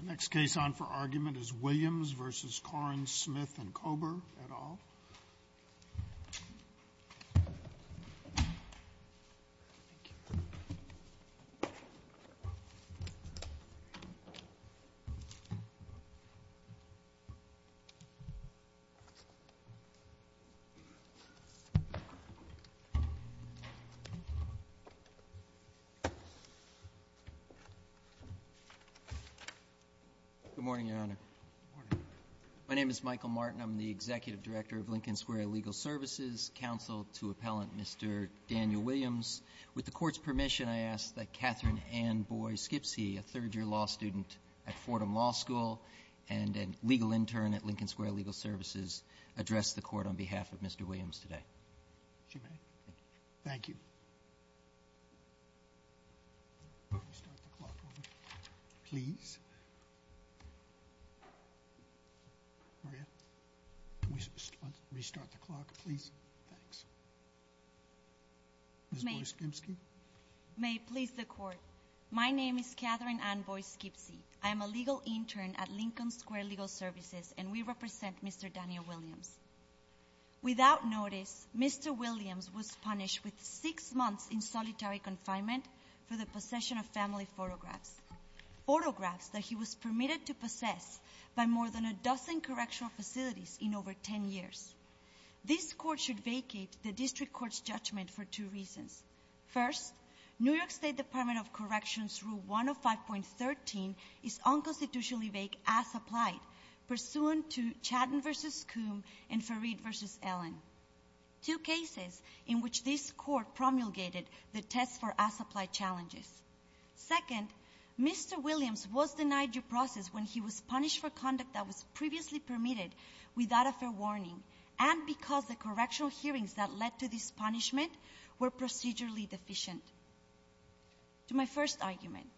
The next case on for argument is Williams v. Korines, Smith v. Kober et al. My name is Michael Martin. I'm the Executive Director of Lincoln Square Legal Services Counsel to Appellant Mr. Daniel Williams. With the court's permission, I ask that Katherine Ann Boyd-Skipsey, a third-year law student at Fordham Law School and a legal intern at Lincoln Square Legal Services, address the court on behalf of Mr. Williams today. May it please the court. My name is Katherine Ann Boyd-Skipsey. I'm a legal intern at Lincoln Mr. Williams was punished with six months in solitary confinement for the possession of family photographs. Photographs that he was permitted to possess by more than a dozen correctional facilities in over ten years. This court should vacate the District Court's judgment for two reasons. First, New York State Department of Corrections Rule 105.13 is unconstitutionally vague as applied pursuant to Chadden v. Coombe and Farid v. Allen. Two cases in which this court promulgated the test for as-applied challenges. Second, Mr. Williams was denied due process when he was punished for conduct that was previously permitted without a fair warning and because the correctional hearings that led to this punishment were procedurally deficient. To my first argument,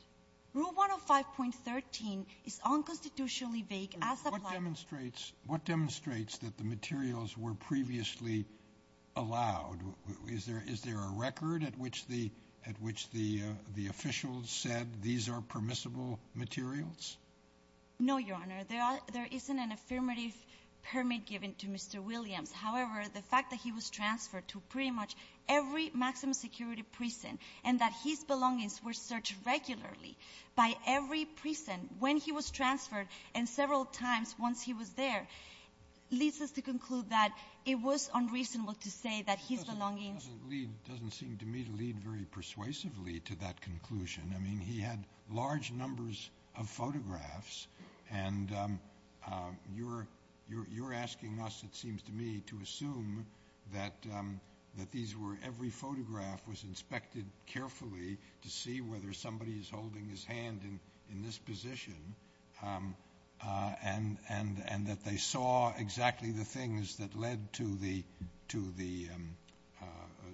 Rule 105.13 is unconstitutionally vague as applied. What demonstrates that the materials were previously allowed? Is there a record at which the officials said these are permissible materials? No, Your Honor. There isn't an affirmative permit given to Mr. Williams. However, the fact that he was transferred to pretty much every maximum security prison and that his belongings were searched regularly by every prison when he was transferred and several times once he was there leads us to conclude that it was unreasonable to say that his belongings... Doesn't seem to me to lead very persuasively to that conclusion. I mean, he had large numbers of photographs and you're asking us, it seems to me, to assume that every photograph was inspected carefully to see whether somebody is holding his hand in this position and that they saw exactly the things that led to the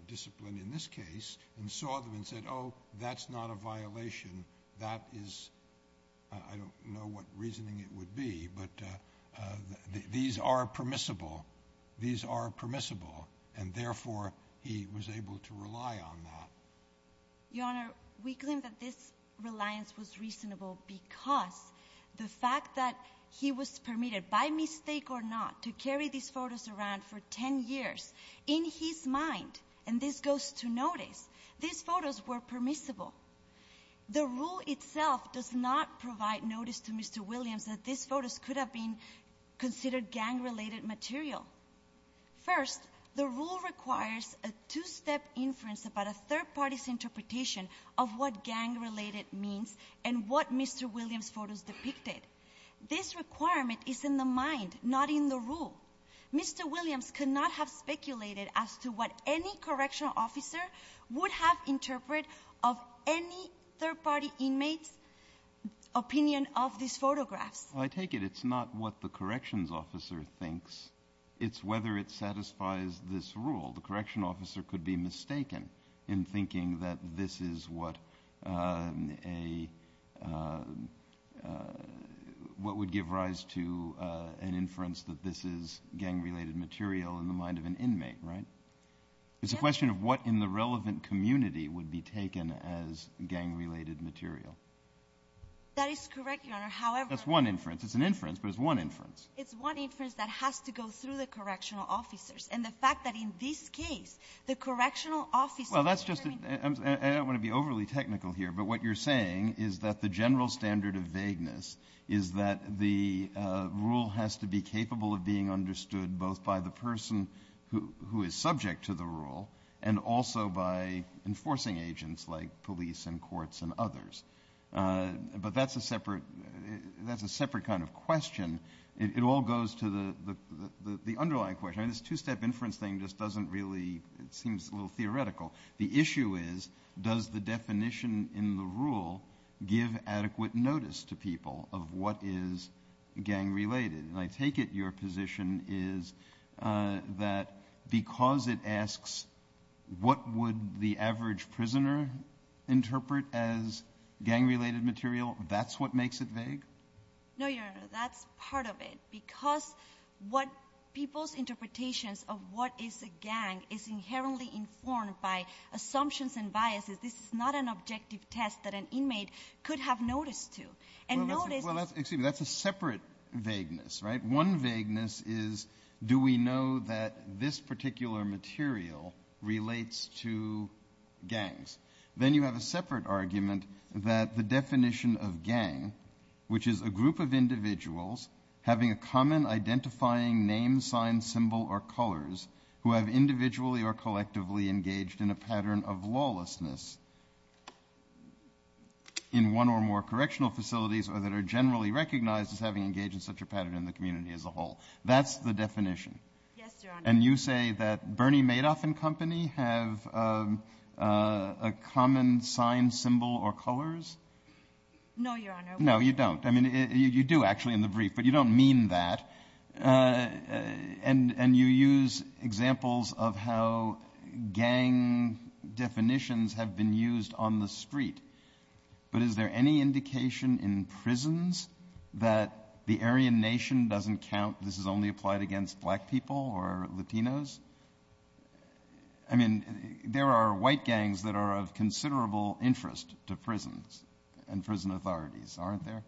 discipline in this case and saw them and said, oh, that's not a violation. That is... I don't know what reasoning it would be, but these are permissible. These are permissible and therefore he was able to rely on that. Your Honor, we claim that this reliance was reasonable because the fact that he was permitted, by mistake or not, to carry these photos around for 10 years, in his mind, and this goes to notice, these photos were permissible. The rule itself does not provide notice to Mr. Williams that these photos could have been considered gang-related material. First, the inference about a third-party's interpretation of what gang-related means and what Mr. Williams' photos depicted. This requirement is in the mind, not in the rule. Mr. Williams could not have speculated as to what any correctional officer would have interpreted of any third-party inmate's opinion of this photograph. I take it it's not what the corrections officer thinks, it's whether it satisfies this rule. The correctional officer could be mistaken in thinking that this is what would give rise to an inference that this is gang-related material in the mind of an inmate, right? It's a question of what in the relevant community would be taken as gang-related material. That is correct, Your Honor, however... That's one inference. It's an inference, but it's one and the fact that in this case, the correctional officer... I don't want to be overly technical here, but what you're saying is that the general standard of vagueness is that the rule has to be capable of being understood both by the person who is subject to the rule and also by enforcing agents like police and courts and others. But that's a separate kind of question. It all goes to the underlying question. This two-step inference thing just doesn't really... it seems a little theoretical. The issue is, does the definition in the rule give adequate notice to people of what is gang-related? And I take it your position is that because it asks what would the average prisoner interpret as gang-related material, that's what makes it vague? No, Your Honor. People's interpretations of what is a gang is inherently informed by assumptions and biases. This is not an objective test that an inmate could have notice to. That's a separate vagueness. One vagueness is, do we know that this particular material relates to gangs? Then you have a separate argument that the definition of gang, which is a group of individuals having a common identifying name, sign, symbol, or colors, who have individually or collectively engaged in a pattern of lawlessness in one or more correctional facilities or that are generally recognized as having engaged in such a pattern in the community as a whole. That's the definition. And you say that Bernie Madoff and company have a common sign, symbol, or colors? No, Your Honor. No, you don't. I mean, you do, actually, in the brief, but you don't mean that. And you use examples of how gang definitions have been used on the street. But is there any indication in prisons that the Aryan nation doesn't count this is only applied against black people or Latinos? I mean, there are white gangs that are of considerable interest to prisons and prison authorities, aren't there?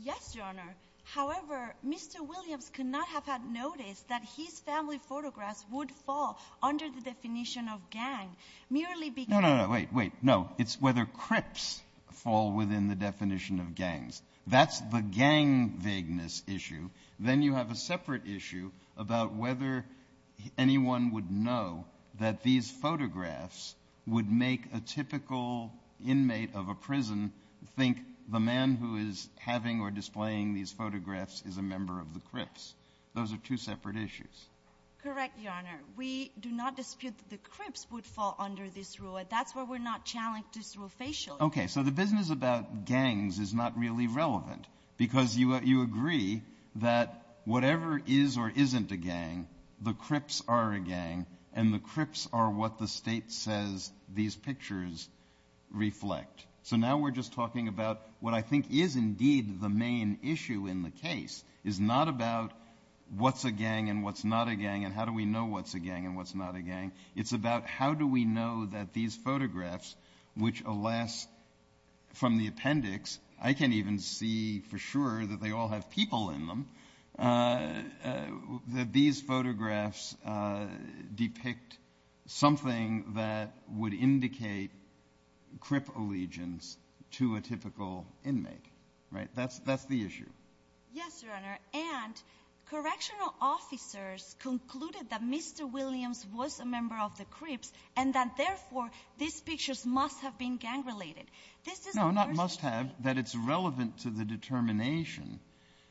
Yes, Your Honor. However, Mr. Williams could not have had noticed that his family photographs would fall under the definition of gang. Merely because... No, no, no, wait, wait, no. It's whether crips fall within the definition of gangs. That's the gang vagueness issue. Then you have a separate issue about whether anyone would know that these photographs would make a typical inmate of a prison think the man who is having or displaying these photographs is a member of the Crips. Those are two separate issues. Correct, Your Honor. We do not dispute that the Crips would fall under this rule, and that's why we're not challenged this rule facially. Okay, so the business about gangs is not really relevant, because you agree that whatever is or isn't a gang, the Crips are a gang, and the Crips are what the state says these pictures reflect. So now we're just talking about what I think is indeed the main issue in the case. It's not about what's a gang and what's not a gang, and how do we know what's a gang and what's not a gang. It's about how do we know that these photographs, which alas, from the appendix, I can't even see for sure that they all have people in them, that these photographs depict something that would indicate Crip allegiance to a typical inmate, right? That's the issue. Yes, Your Honor, and correctional officers concluded that Mr. Williams was a member of the Crips, and that therefore these pictures must have been gang-related. No, not must have, that it's relevant to the determination.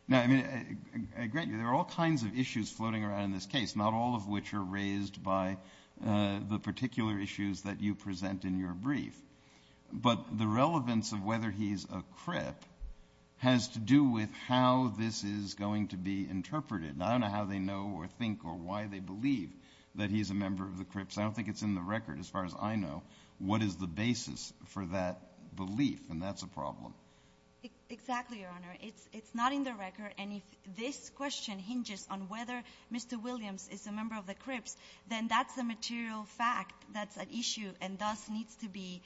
Now, I mean, I agree, there are all kinds of issues floating around in this case, not all of which are raised by the particular issues that you present in your brief. But the relevance of whether he's a Crip has to do with how this is going to be interpreted. I don't know how they know or think or why they believe that he's a Crip. It's not in the record, as far as I know, what is the basis for that belief, and that's a problem. Exactly, Your Honor, it's not in the record, and if this question hinges on whether Mr. Williams is a member of the Crips, then that's a material fact, that's an issue, and thus needs to be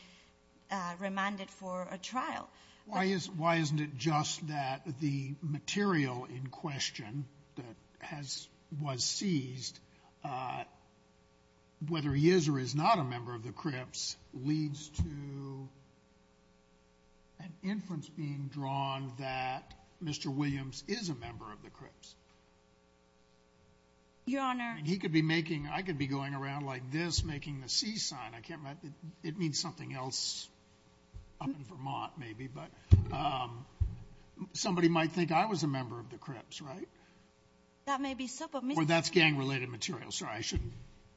remanded for a trial. Why isn't it just that the material in question that was seized, whether he is or is not a member of the Crips, leads to an inference being drawn that Mr. Williams is a member of the Crips? Your Honor... He could be making, I could be going around like this making the C sign, I can't remember, it means something else up in Vermont maybe, but somebody might think I was a member of the Crips, right? That may be so, but... Well, that's gang related material, so I shouldn't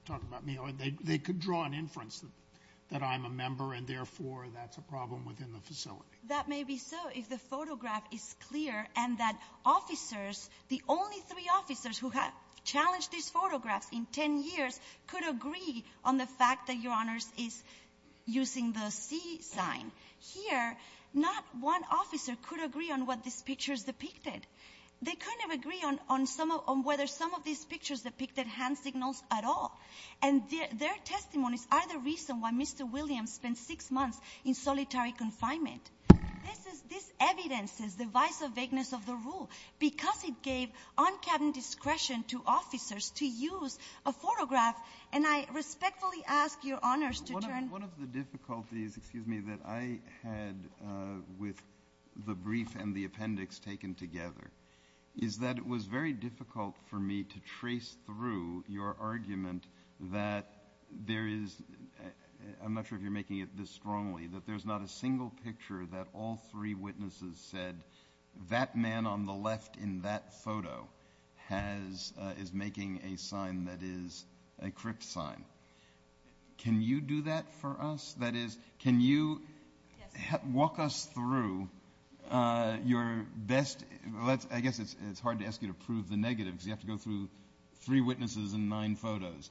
talk about me, or they could draw an inference that I'm a member, and therefore that's a problem within the facility. That may be so if the photograph is clear and that officers, the only three officers who have challenged this photograph in 10 years, could agree on the fact that Your Honor is using the C sign. Here, not one officer could agree on what this picture is depicted. They kind of agree on whether some of these pictures depicted hand signals at all, and their testimony is either reason why Mr. Williams spent six months in solitary confinement. This evidences the vice or vagueness of the rule, because it gave on-cabin discretion to officers to use a photograph, and I respectfully ask Your Honors to turn... One of the difficulties, excuse me, that I had with the brief and the appendix taken together is that it was very difficult for me to trace through your argument that there is, I'm not sure if you're making it this strongly, that there's not a single picture that all three witnesses said that man on the left in that photo is making a sign that is a crypt sign. Can you do that for us? That is, can you walk us through your best... I guess it's hard to ask you to prove the negative, because you have to go through three witnesses and nine photos.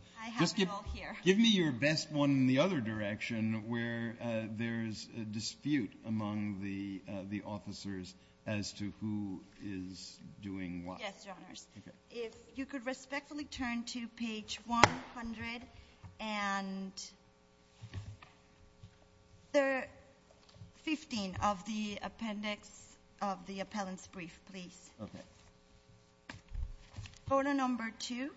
Give me your best one in the other direction, where there's a dispute among the officers as to who is doing what. Yes, Your Honors. If you could respectfully turn to page 100 and... 15 of the appendix of the appellant's brief, please. Okay. Photo number two.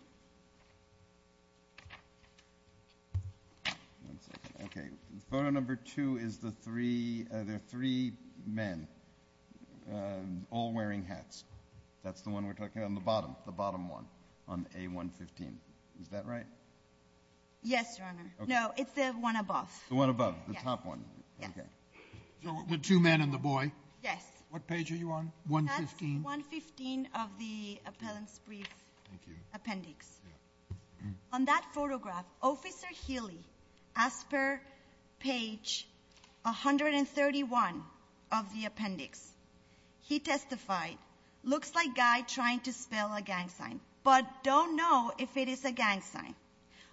Okay, photo number two is the three, there are three men, all wearing hats. That's the one on the bottom, the bottom one, on A115. Is that right? Yes, Your Honor. No, it's the one above. The one above, the top one. Okay. The two men and the boy. Yes. What page are you on? 115. 115 of the appellant's brief appendix. On that photograph, Officer Healy, as per page 131 of the appendix, he testified, looks like a guy trying to spell a gang sign, but don't know if it is a gang sign.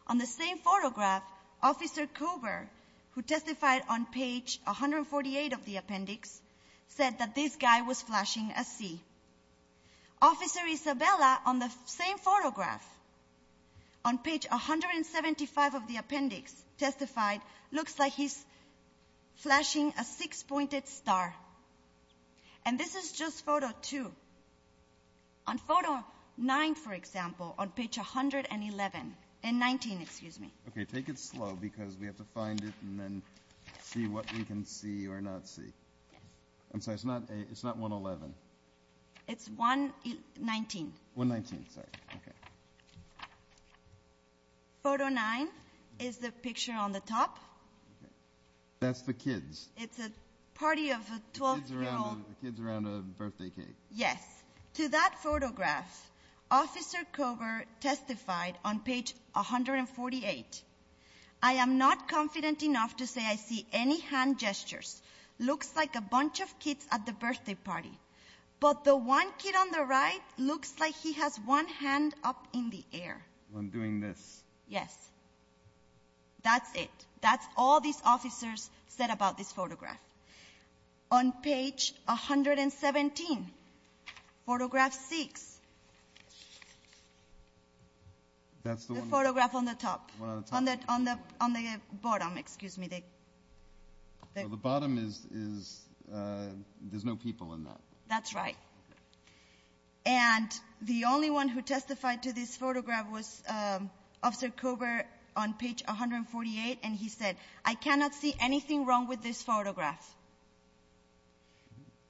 On the same photograph, Officer Coover, who testified on page 148 of the appendix, said that this guy was flashing a C. Officer Isabella, on the same photograph, on page 175 of the appendix, testified, looks like he's flashing a six-pointed star. And this is just photo two. On photo nine, for example, on page 111, and 19, excuse me. Okay, take it slow because we have to find it and then see what we can see or not see. I'm sorry, it's not 111. It's 119. 119, sorry. Okay. Photo nine is the picture on the top. That's the kids. It's a party of 12-year-olds. The kids around a birthday cake. Yes. To that photograph, Officer Coover testified on page 148, I am not confident enough to say I see any hand gestures. Looks like a bunch of kids at the birthday party. But the one kid on the right looks like he has one hand up in the air. When doing this. Yes. That's it. That's all these officers said about this photograph. On page 117, photograph six. The photograph on the top. On the bottom, excuse me. The bottom is, there's no people in that. That's right. And the only one who testified to this photograph was Officer Coover on page 148, and he said, I cannot see anything wrong with this photograph.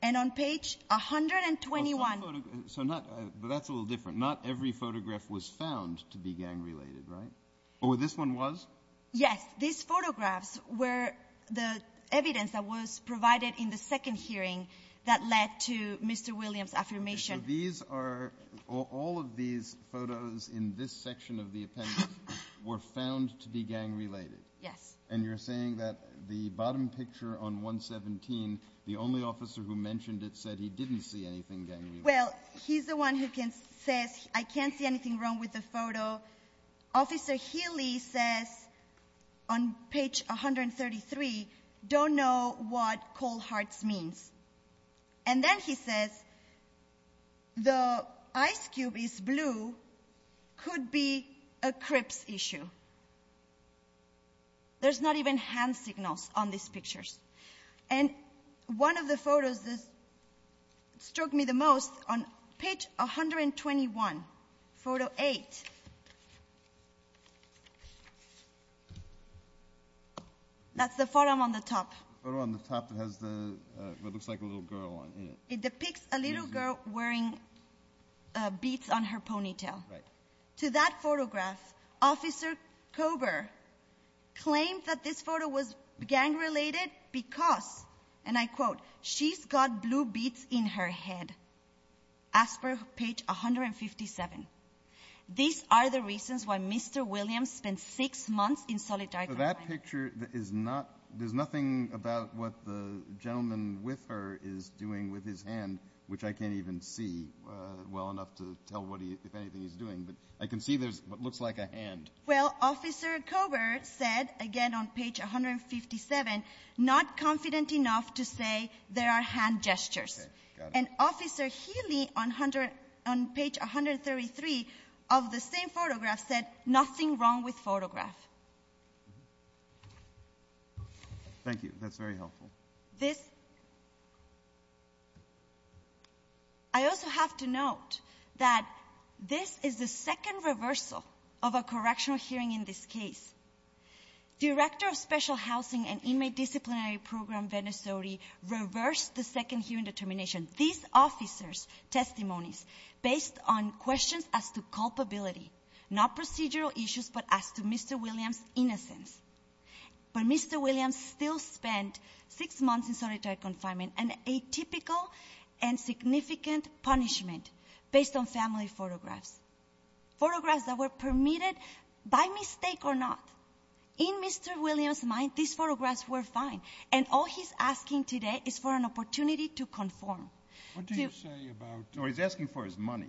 And on page 121. But that's a little different. Not every photograph was found to be gang-related, right? Oh, this one was? Yes. These photographs were the evidence that was provided in the second hearing that led to Mr. Williams' affirmation. So these are, all of these photos in this section of the appendix were found to be gang-related? Yes. And you're saying that the bottom picture on 117, the only officer who mentioned it said he didn't see anything gang-related? The ice cube is blue, could be a CRIPS issue. There's not even hand signals on these pictures. And one of the photos that struck me the most on page 121, photo eight. That's the photo on the top. The photo on the top that looks like a little girl. It depicts a little girl wearing beads on her ponytail. To that photograph, Officer Coover claims that this photo was gang-related because, and I quote, she's got blue beads in her head, as per page 157. These are the reasons why Mr. Williams spent six months in solitary confinement. So that picture is not, there's nothing about what the gentleman with her is doing with his hand, which I can't even see well enough to tell what he, if anything, is doing. But I can see there's what looks like a hand. Well, Officer Coover said, again on page 157, not confident enough to say there are hand gestures. And Officer Healy on page 133 of the same photograph said, nothing wrong with photograph. Thank you, that's very helpful. This, I also have to note that this is the second reversal of a correctional hearing in this case. Director of Special Housing and Inmate Disciplinary Program, Venezuela, reversed the second hearing determination. These officers' testimonies, based on questions as to culpability, not procedural issues, but as to Mr. Williams' innocence. But Mr. Williams still spent six months in solitary confinement, and a typical and significant punishment based on family photographs, photographs that were permitted by mistake or not. In Mr. Williams' mind, these photographs were fine, and all he's asking today is for an opportunity to conform. What do you say about, or he's asking for his money?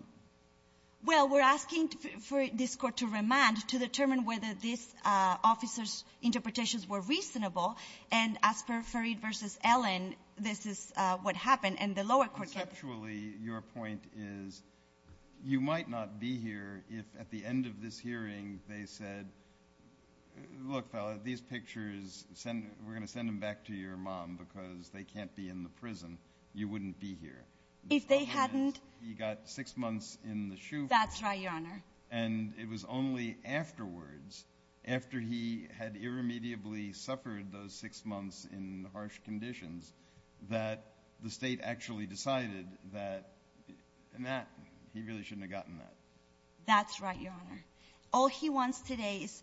Well, we're asking for this court to remand, to determine whether these officers' interpretations were reasonable, and as per Farid versus Ellen, this is what happened, and the lower court said- Actually, your point is, you might not be here if at the end of this hearing, they said, look fella, these pictures, we're going to send them back to your mom, because they can't be in the prison. You wouldn't be here. If they hadn't- He got six months in the shoe- That's right, your honor. And it was only afterwards, after he had irremediably suffered those six months in harsh conditions, that the state actually decided that he really shouldn't have gotten that. That's right, your honor. All he wants today is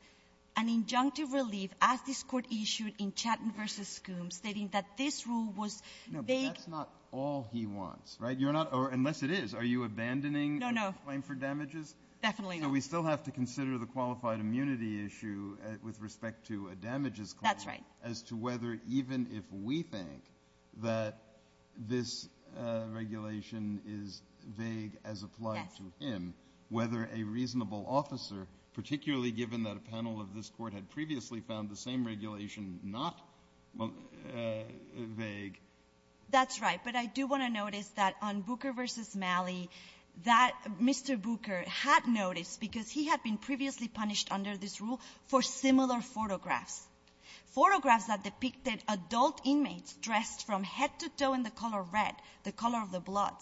an injunctive relief, as this court issued in Chatton versus Skoom, stating that this rule was- No, but that's not all he wants, right? Unless it is. Are you abandoning the claim for damages? No, no. Definitely not. We still have to consider the qualified immunity issue with respect to a damages claim, as to whether, even if we think that this regulation is vague as applied to him, whether a reasonable officer, particularly given that a panel of this court had previously found the same regulation not vague, That's right, but I do want to notice that on Booker versus Malley, that Mr. Booker had noticed, because he had been previously punished under this rule, for similar photographs. Photographs that depicted adult inmates dressed from head to toe in the color red, the color of the blood,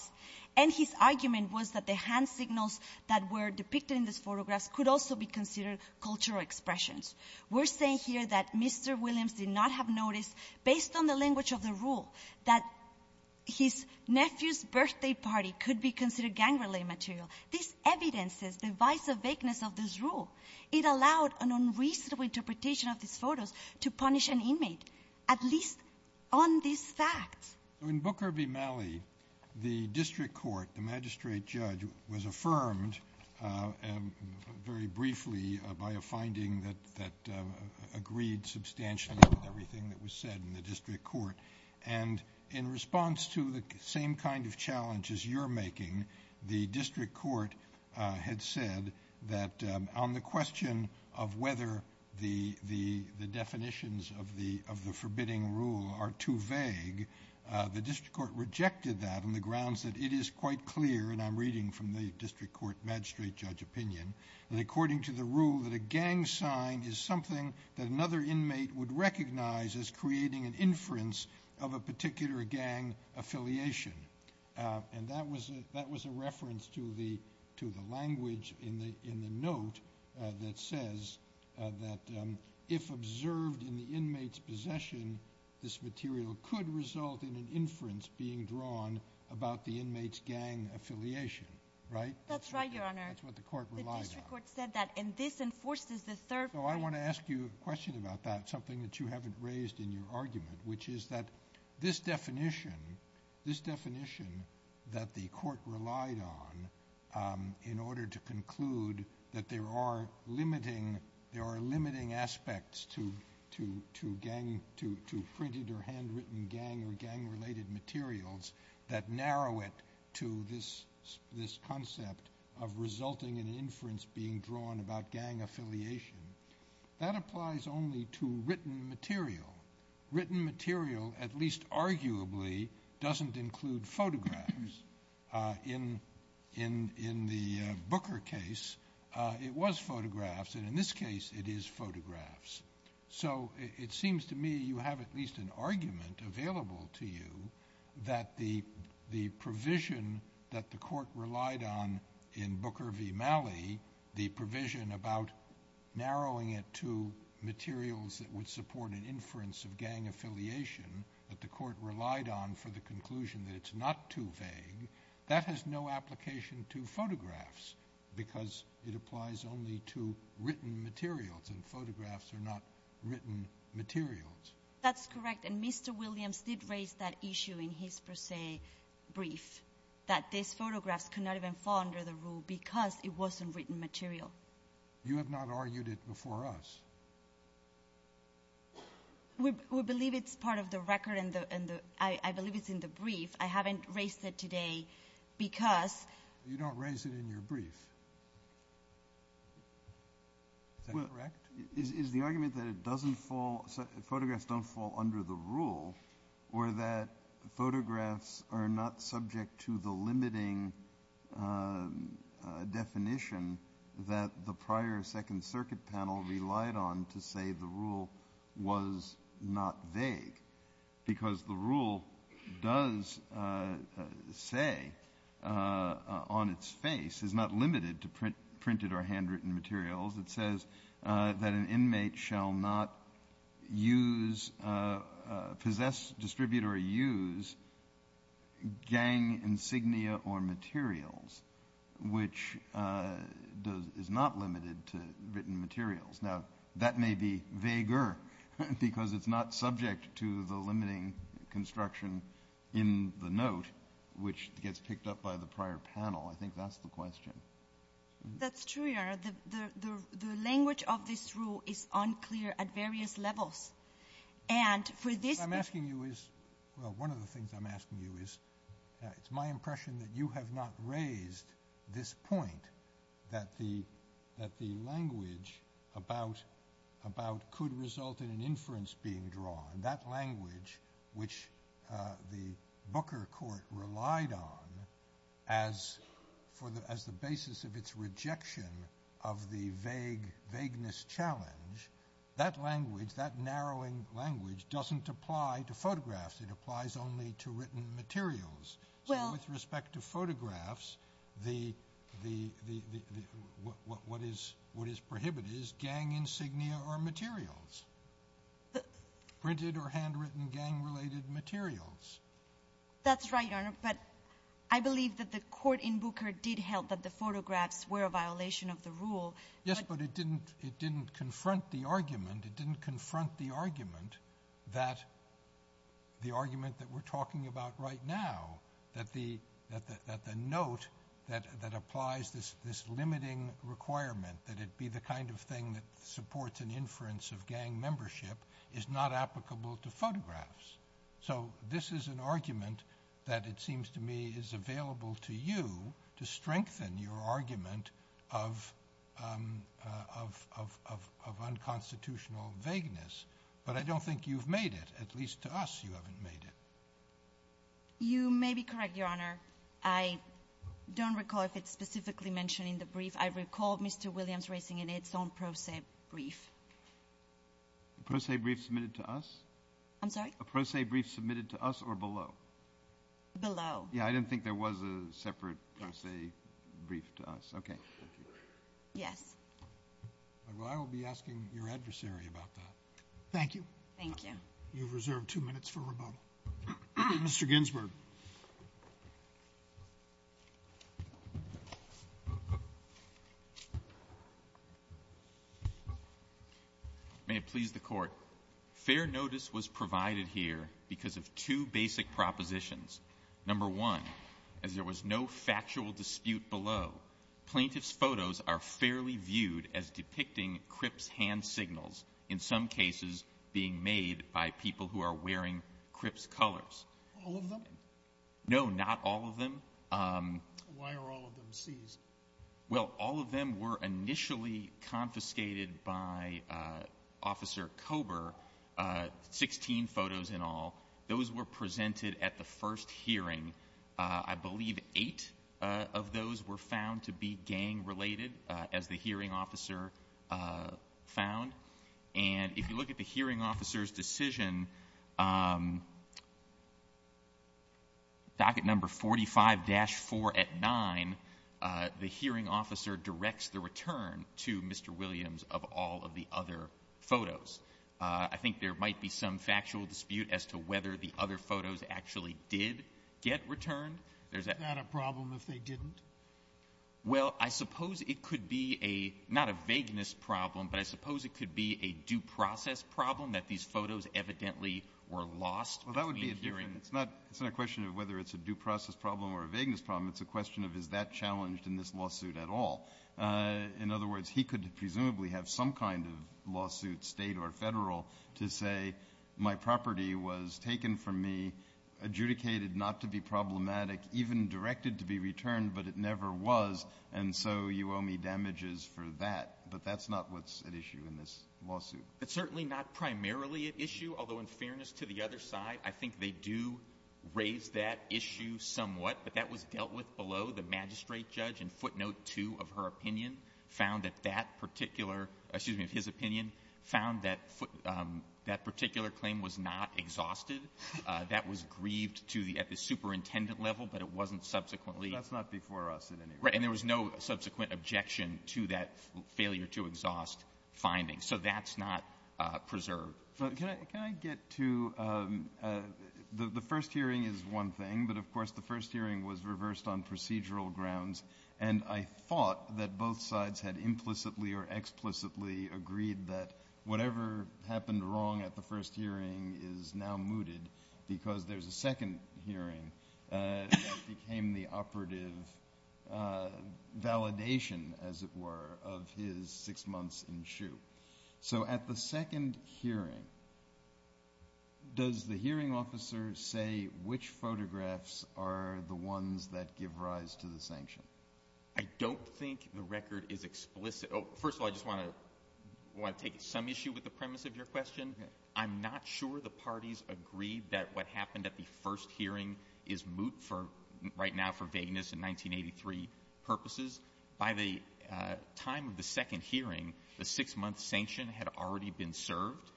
and his argument was that the hand signals that were depicted in this photograph could also be considered cultural expressions. We're saying here that Mr. Williams did not have noticed, based on the language of the rule, that his nephew's birthday party could be considered gang-related material. This evidences the vice or vagueness of this rule. It allowed an unreasonable interpretation of this photo to punish an inmate, at least on this fact. In Booker v. Malley, the district court, the magistrate judge, was affirmed very briefly by a finding that agreed substantially with everything that was said in the district court. And in response to the same kind of challenges you're making, the district court had said that on the question of whether the definitions of the forbidding rule are too vague, the district court rejected that on the grounds that it is quite clear, and I'm reading from the district court magistrate judge opinion, that according to the rule, that a gang sign is something that another inmate would recognize as creating an inference of a particular gang affiliation. And that was a reference to the language in the note that says that if observed in the inmate's possession, this material could result in an inference being drawn about the inmate's gang affiliation. That's right, your honor. That's what the court relied on. The district court said that, and this enforces the third... So I want to ask you a question about that, something that you haven't raised in your argument, which is that this definition, this definition that the court relied on in order to conclude that there are limiting aspects to gang, to printed or handwritten gang or gang-related materials that narrow it to this concept of resulting in inference being drawn about gang affiliation, that applies only to written material. Written material, at least arguably, doesn't include photographs. In the Booker case, it was photographs, and in this case, it is photographs. So it seems to me you have at least an argument available to you that the provision that the court relied on in Booker v. Malley, the provision about narrowing it to materials that would support an inference of gang affiliation that the court relied on for the conclusion that it's not too vague, that has no application to photographs because it applies only to written materials, and photographs are not written materials. That's correct, and Mr. Williams did raise that issue in his, per se, brief, that these photographs cannot even fall under the rule because it wasn't written material. You have not argued it before us. We believe it's part of the record, and I believe it's in the brief. I haven't raised it today because… You don't raise it in your brief. Is that correct? Is the argument that photographs don't fall under the rule or that photographs are not subject to the limiting definition that the prior Second Circuit panel relied on to say the rule was not vague? Because the rule does say on its face, it's not limited to printed or handwritten materials. It says that an inmate shall not possess, distribute, or use gang insignia or materials, which is not limited to written materials. Now, that may be vaguer because it's not subject to the limiting construction in the note, which gets picked up by the prior panel. I think that's the question. That's true, Your Honor. The language of this rule is unclear at various levels. And for this… What I'm asking you is… Well, one of the things I'm asking you is, it's my impression that you have not raised this point, that the language about could result in an inference being drawn. That language, which the Booker Court relied on as the basis of its rejection of the vagueness challenge, that language, that narrowing language, doesn't apply to photographs. It applies only to written materials. So with respect to photographs, what is prohibited is gang insignia or materials. Printed or handwritten gang-related materials. That's right, Your Honor, but I believe that the court in Booker did held that the photographs were a violation of the rule. Yes, but it didn't confront the argument. That the argument that we're talking about right now, that the note that applies this limiting requirement, that it be the kind of thing that supports an inference of gang membership, is not applicable to photographs. So this is an argument that it seems to me is available to you to strengthen your argument of unconstitutional vagueness. But I don't think you've made it, at least to us you haven't made it. You may be correct, Your Honor. I don't recall if it's specifically mentioned in the brief. I recall Mr. Williams raising it in his own pro se brief. A pro se brief submitted to us? I'm sorry? A pro se brief submitted to us or below? Below. Yeah, I didn't think there was a separate pro se brief to us. Okay. Yeah. I will be asking your adversary about that. Thank you. Thank you. You've reserved two minutes for rebuttal. Mr. Ginsberg. May it please the Court. Fair notice was provided here because of two basic propositions. Number one, as there was no factual dispute below, plaintiff's photos are fairly viewed as depicting Cripps hand signals, in some cases being made by people who are wearing Cripps colors. All of them? No, not all of them. Why are all of them, Steve? Well, all of them were initially confiscated by Officer Kober, 16 photos in all. Those were presented at the first hearing. I believe eight of those were found to be gang-related, as the hearing officer found. And if you look at the hearing officer's decision, docket number 45-4 at 9, the hearing officer directs the return to Mr. Williams of all of the other photos. I think there might be some factual dispute as to whether the other photos actually did get returned. Is that a problem if they didn't? Well, I suppose it could be a, not a vagueness problem, but I suppose it could be a due process problem that these photos evidently were lost. Well, that would be a different, it's not a question of whether it's a due process problem or a vagueness problem, it's a question of is that challenged in this lawsuit at all. In other words, he could presumably have some kind of lawsuit, state or federal, to say my property was taken from me, adjudicated not to be problematic, even directed to be returned, but it never was, and so you owe me damages for that. But that's not what's at issue in this lawsuit. It's certainly not primarily at issue, although in fairness to the other side, I think they do raise that issue somewhat. But that was dealt with below. The magistrate judge in footnote two of her opinion found that that particular, excuse me, of his opinion, found that that particular claim was not exhausted. That was grieved to the superintendent level, but it wasn't subsequently. That's not before us in any way. And there was no subsequent objection to that failure to exhaust finding. So that's not preserved. So can I get to, the first hearing is one thing, but of course, the first hearing was reversed on procedural grounds. And I thought that both sides had implicitly or explicitly agreed that whatever happened wrong at the first hearing is now mooted because there's a second hearing that became the operative validation, as it were, of his six months in shoe. So at the second hearing, does the hearing officer say which photographs are the ones that give rise to the sanction? I don't think the record is explicit. First of all, I just want to take some issue with the premise of your question. I'm not sure the parties agreed that what happened at the first hearing is moot for right now for vagueness in 1983 purposes. By the time of the second hearing, the six month sanction had already been served.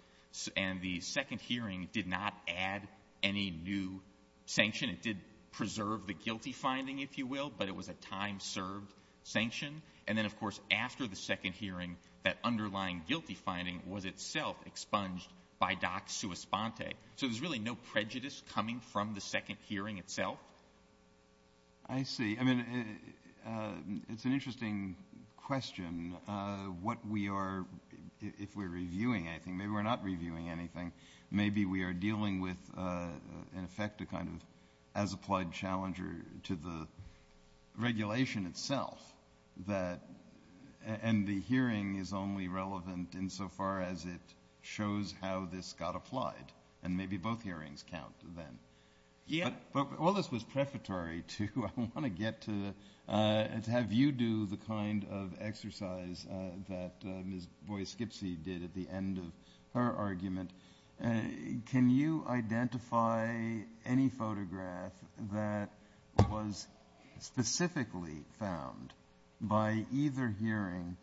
And the second hearing did not add any new sanction. It did preserve the guilty finding, if you will. But it was a time served sanction. And then, of course, after the second hearing, that underlying guilty finding was itself expunged by Doc Suos-Ponte. So there's really no prejudice coming from the second hearing itself. I see. I mean, it's an interesting question. What we are, if we're reviewing anything, maybe we're not reviewing anything. Maybe we are dealing with, in effect, a kind of as-applied challenger to the regulation itself that – and the hearing is only relevant insofar as it shows how this got applied. And maybe both hearings count then. Yeah. But all this was prefatory to – I want to get to – have you do the kind of exercise that Ms. Boies-Gibson did at the end of her argument. Can you identify any photograph that was specifically found by either hearing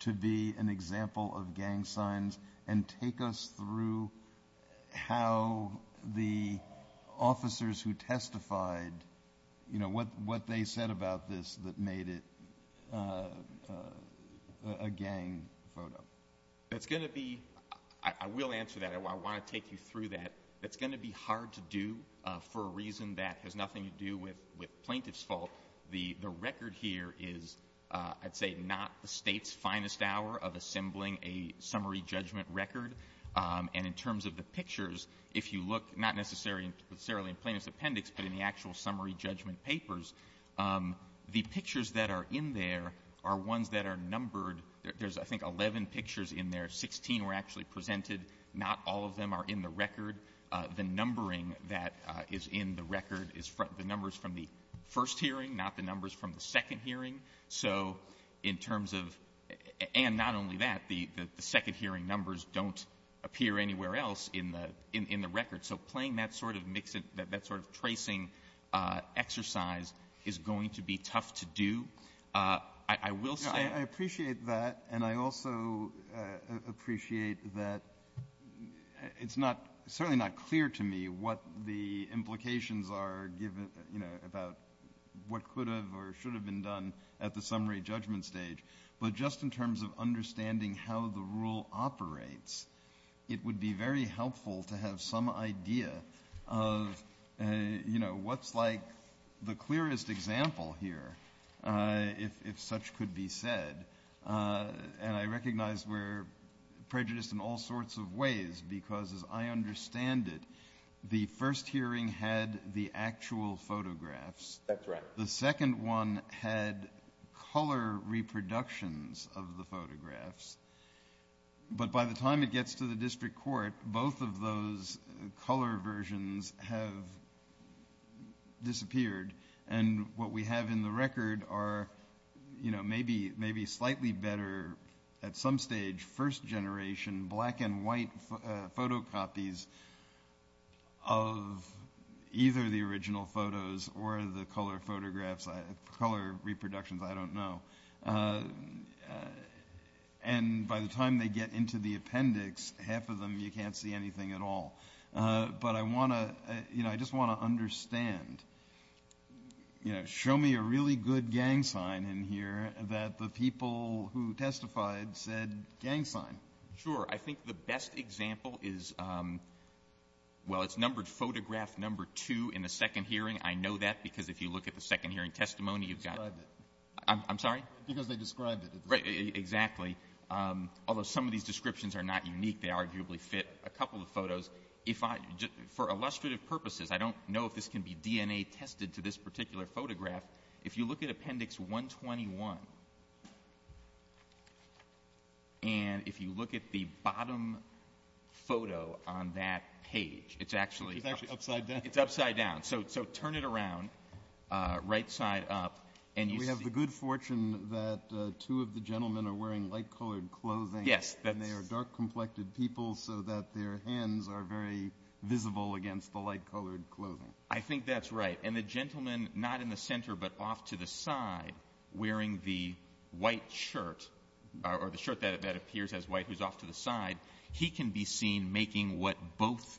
to be an example of gang signs and take us through how the officers who testified – a gang photo? That's going to be – I will answer that. I want to take you through that. That's going to be hard to do for a reason that has nothing to do with plaintiff's fault. The record here is, I'd say, not the state's finest hour of assembling a summary judgment record. And in terms of the pictures, if you look – not necessarily in plaintiff's appendix, but in the actual summary judgment papers, the pictures that are in there are ones that are numbered. There's, I think, 11 pictures in there. Sixteen were actually presented. Not all of them are in the record. The numbering that is in the record is the numbers from the first hearing, not the numbers from the second hearing. So in terms of – and not only that, the second hearing numbers don't appear anywhere else in the record. So playing that sort of – that sort of tracing exercise is going to be tough to do. I will say – I appreciate that, and I also appreciate that it's not – certainly not clear to me what the implications are given – about what could have or should have been done at the summary judgment stage. But just in terms of understanding how the rule operates, it would be very helpful to have some idea of what's like the clearest example here, if such could be said. And I recognize we're prejudiced in all sorts of ways because, as I understand it, the first hearing had the actual photographs. MR. That's right. MR. WELLS. The second one had color reproductions of the photographs. But by the time it gets to the district court, both of those color versions have disappeared. And what we have in the record are maybe slightly better, at some stage, first-generation black and white photocopies of either the original photos or the color photographs – color reproductions, I don't know. And by the time they get into the appendix, half of them, you can't see anything at all. But I want to – I just want to understand – show me a really good gang sign in here that the people who testified said gang sign. MR. Sure. I think the best example is – well, it's numbered photograph number two in the second hearing. I know that because if you look at the second hearing testimony, you've got – MR. Because they described it. MR. Right. Exactly. Although some of these descriptions are not unique. They arguably fit a couple of photos. If I – for illustrative purposes, I don't know if this can be DNA-tested for this particular photograph. If you look at appendix 121, and if you look at the bottom photo on that page, it's actually – MR. It's actually upside down. MR. It's upside down. So turn it around, right side up, and you can see – MR. I have a good fortune that two of the gentlemen are wearing light-colored clothing. Yes. MR. And they are dark-complected people so that their hands are very visible against the light-colored clothing. MR. I think that's right. And the gentleman not in the center but off to the side wearing the white shirt – or the shirt that appears as white who's off to the side – he can be seen making what both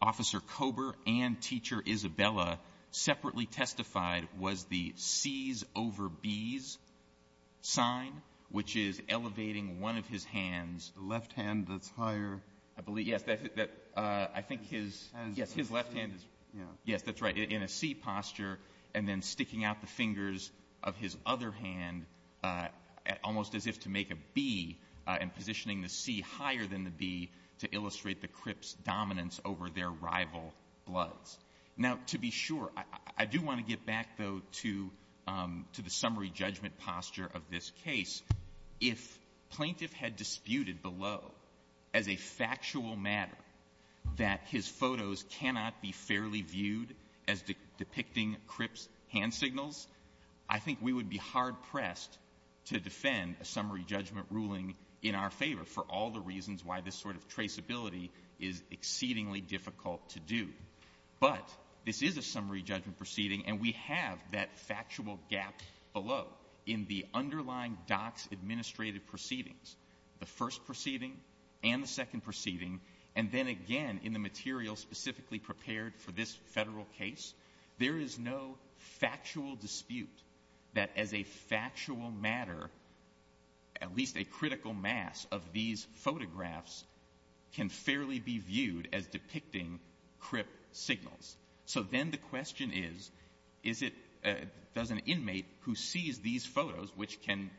Officer Kober and Teacher Isabella separately testified was the C's over B's sign, which is elevating one of his hands – MR. The left hand that's higher. MR. I believe – yes, I think his – yes, his left hand – yes, that's right, in a C posture, and then sticking out the fingers of his other hand almost as if to make a B and positioning the C higher than the B to illustrate the Crip's dominance over their rival bloods. Now, to be sure, I do want to get back, though, to the summary judgment posture of this case. If plaintiff had disputed below as a factual matter that his photos cannot be fairly viewed as depicting Crip's hand signals, I think we would be hard-pressed to defend a summary judgment ruling in our favor for all the reasons why this sort of traceability is exceedingly difficult to do. But this is a summary judgment proceeding, and we have that factual gap below in the underlying docs-administrated proceedings, the first proceeding and the second proceeding, and then again in the material specifically prepared for this federal case. There is no factual dispute that, as a factual matter, at least a critical mass of these photographs can fairly be viewed as depicting Crip signals. So then the question is, is it – does an inmate who sees these photos, which can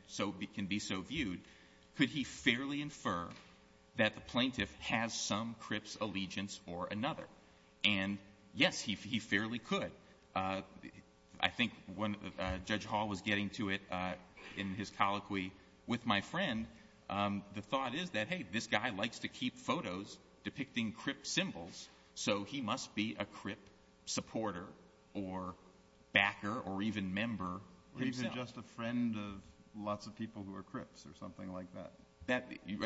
be so viewed, could he fairly infer that the plaintiff has some Crip's allegiance or another? And yes, he fairly could. I think when Judge Hall was getting to it in his colloquy with my friend, the thought is that, hey, this guy likes to keep photos depicting Crip symbols, so he must be a Crip supporter or backer or even member. He's just a friend of lots of people who are Crips or something like that.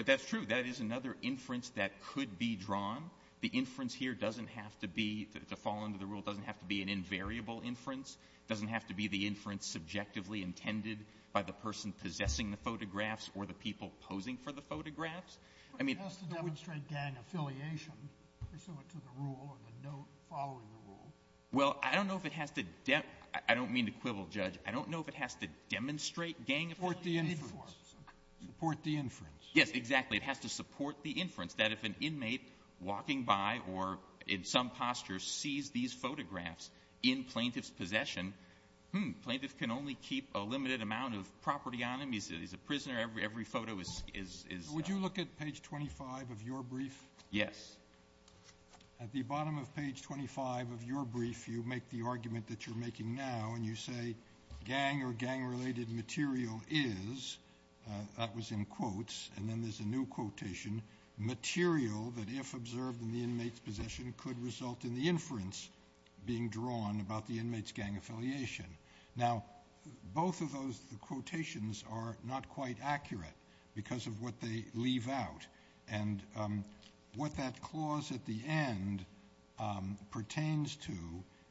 That's true. That is another inference that could be drawn. The inference here doesn't have to be – to fall under the rule doesn't have to be an invariable inference. It doesn't have to be the inference subjectively intended by the person possessing the photographs or the people posing for the photographs. It has to demonstrate gang affiliation pursuant to the rule and the note following the rule. Well, I don't know if it has to – I don't mean to quibble, Judge. I don't know if it has to demonstrate gang affiliation. Support the inference. Yes, exactly. It has to support the inference that if an inmate walking by or in some posture sees these photographs in plaintiff's possession, hmm, plaintiff can only keep a limited amount of property on them. He's a prisoner. Every photo is – Would you look at page 25 of your brief? Yes. At the bottom of page 25 of your brief, you make the argument that you're making now and you say, gang or gang-related material is – that was in quotes, and then there's a new quotation – material that if observed in the inmate's possession could result in the inference being drawn about the inmate's gang affiliation. Now, both of those quotations are not quite accurate because of what they leave out. And what that clause at the end pertains to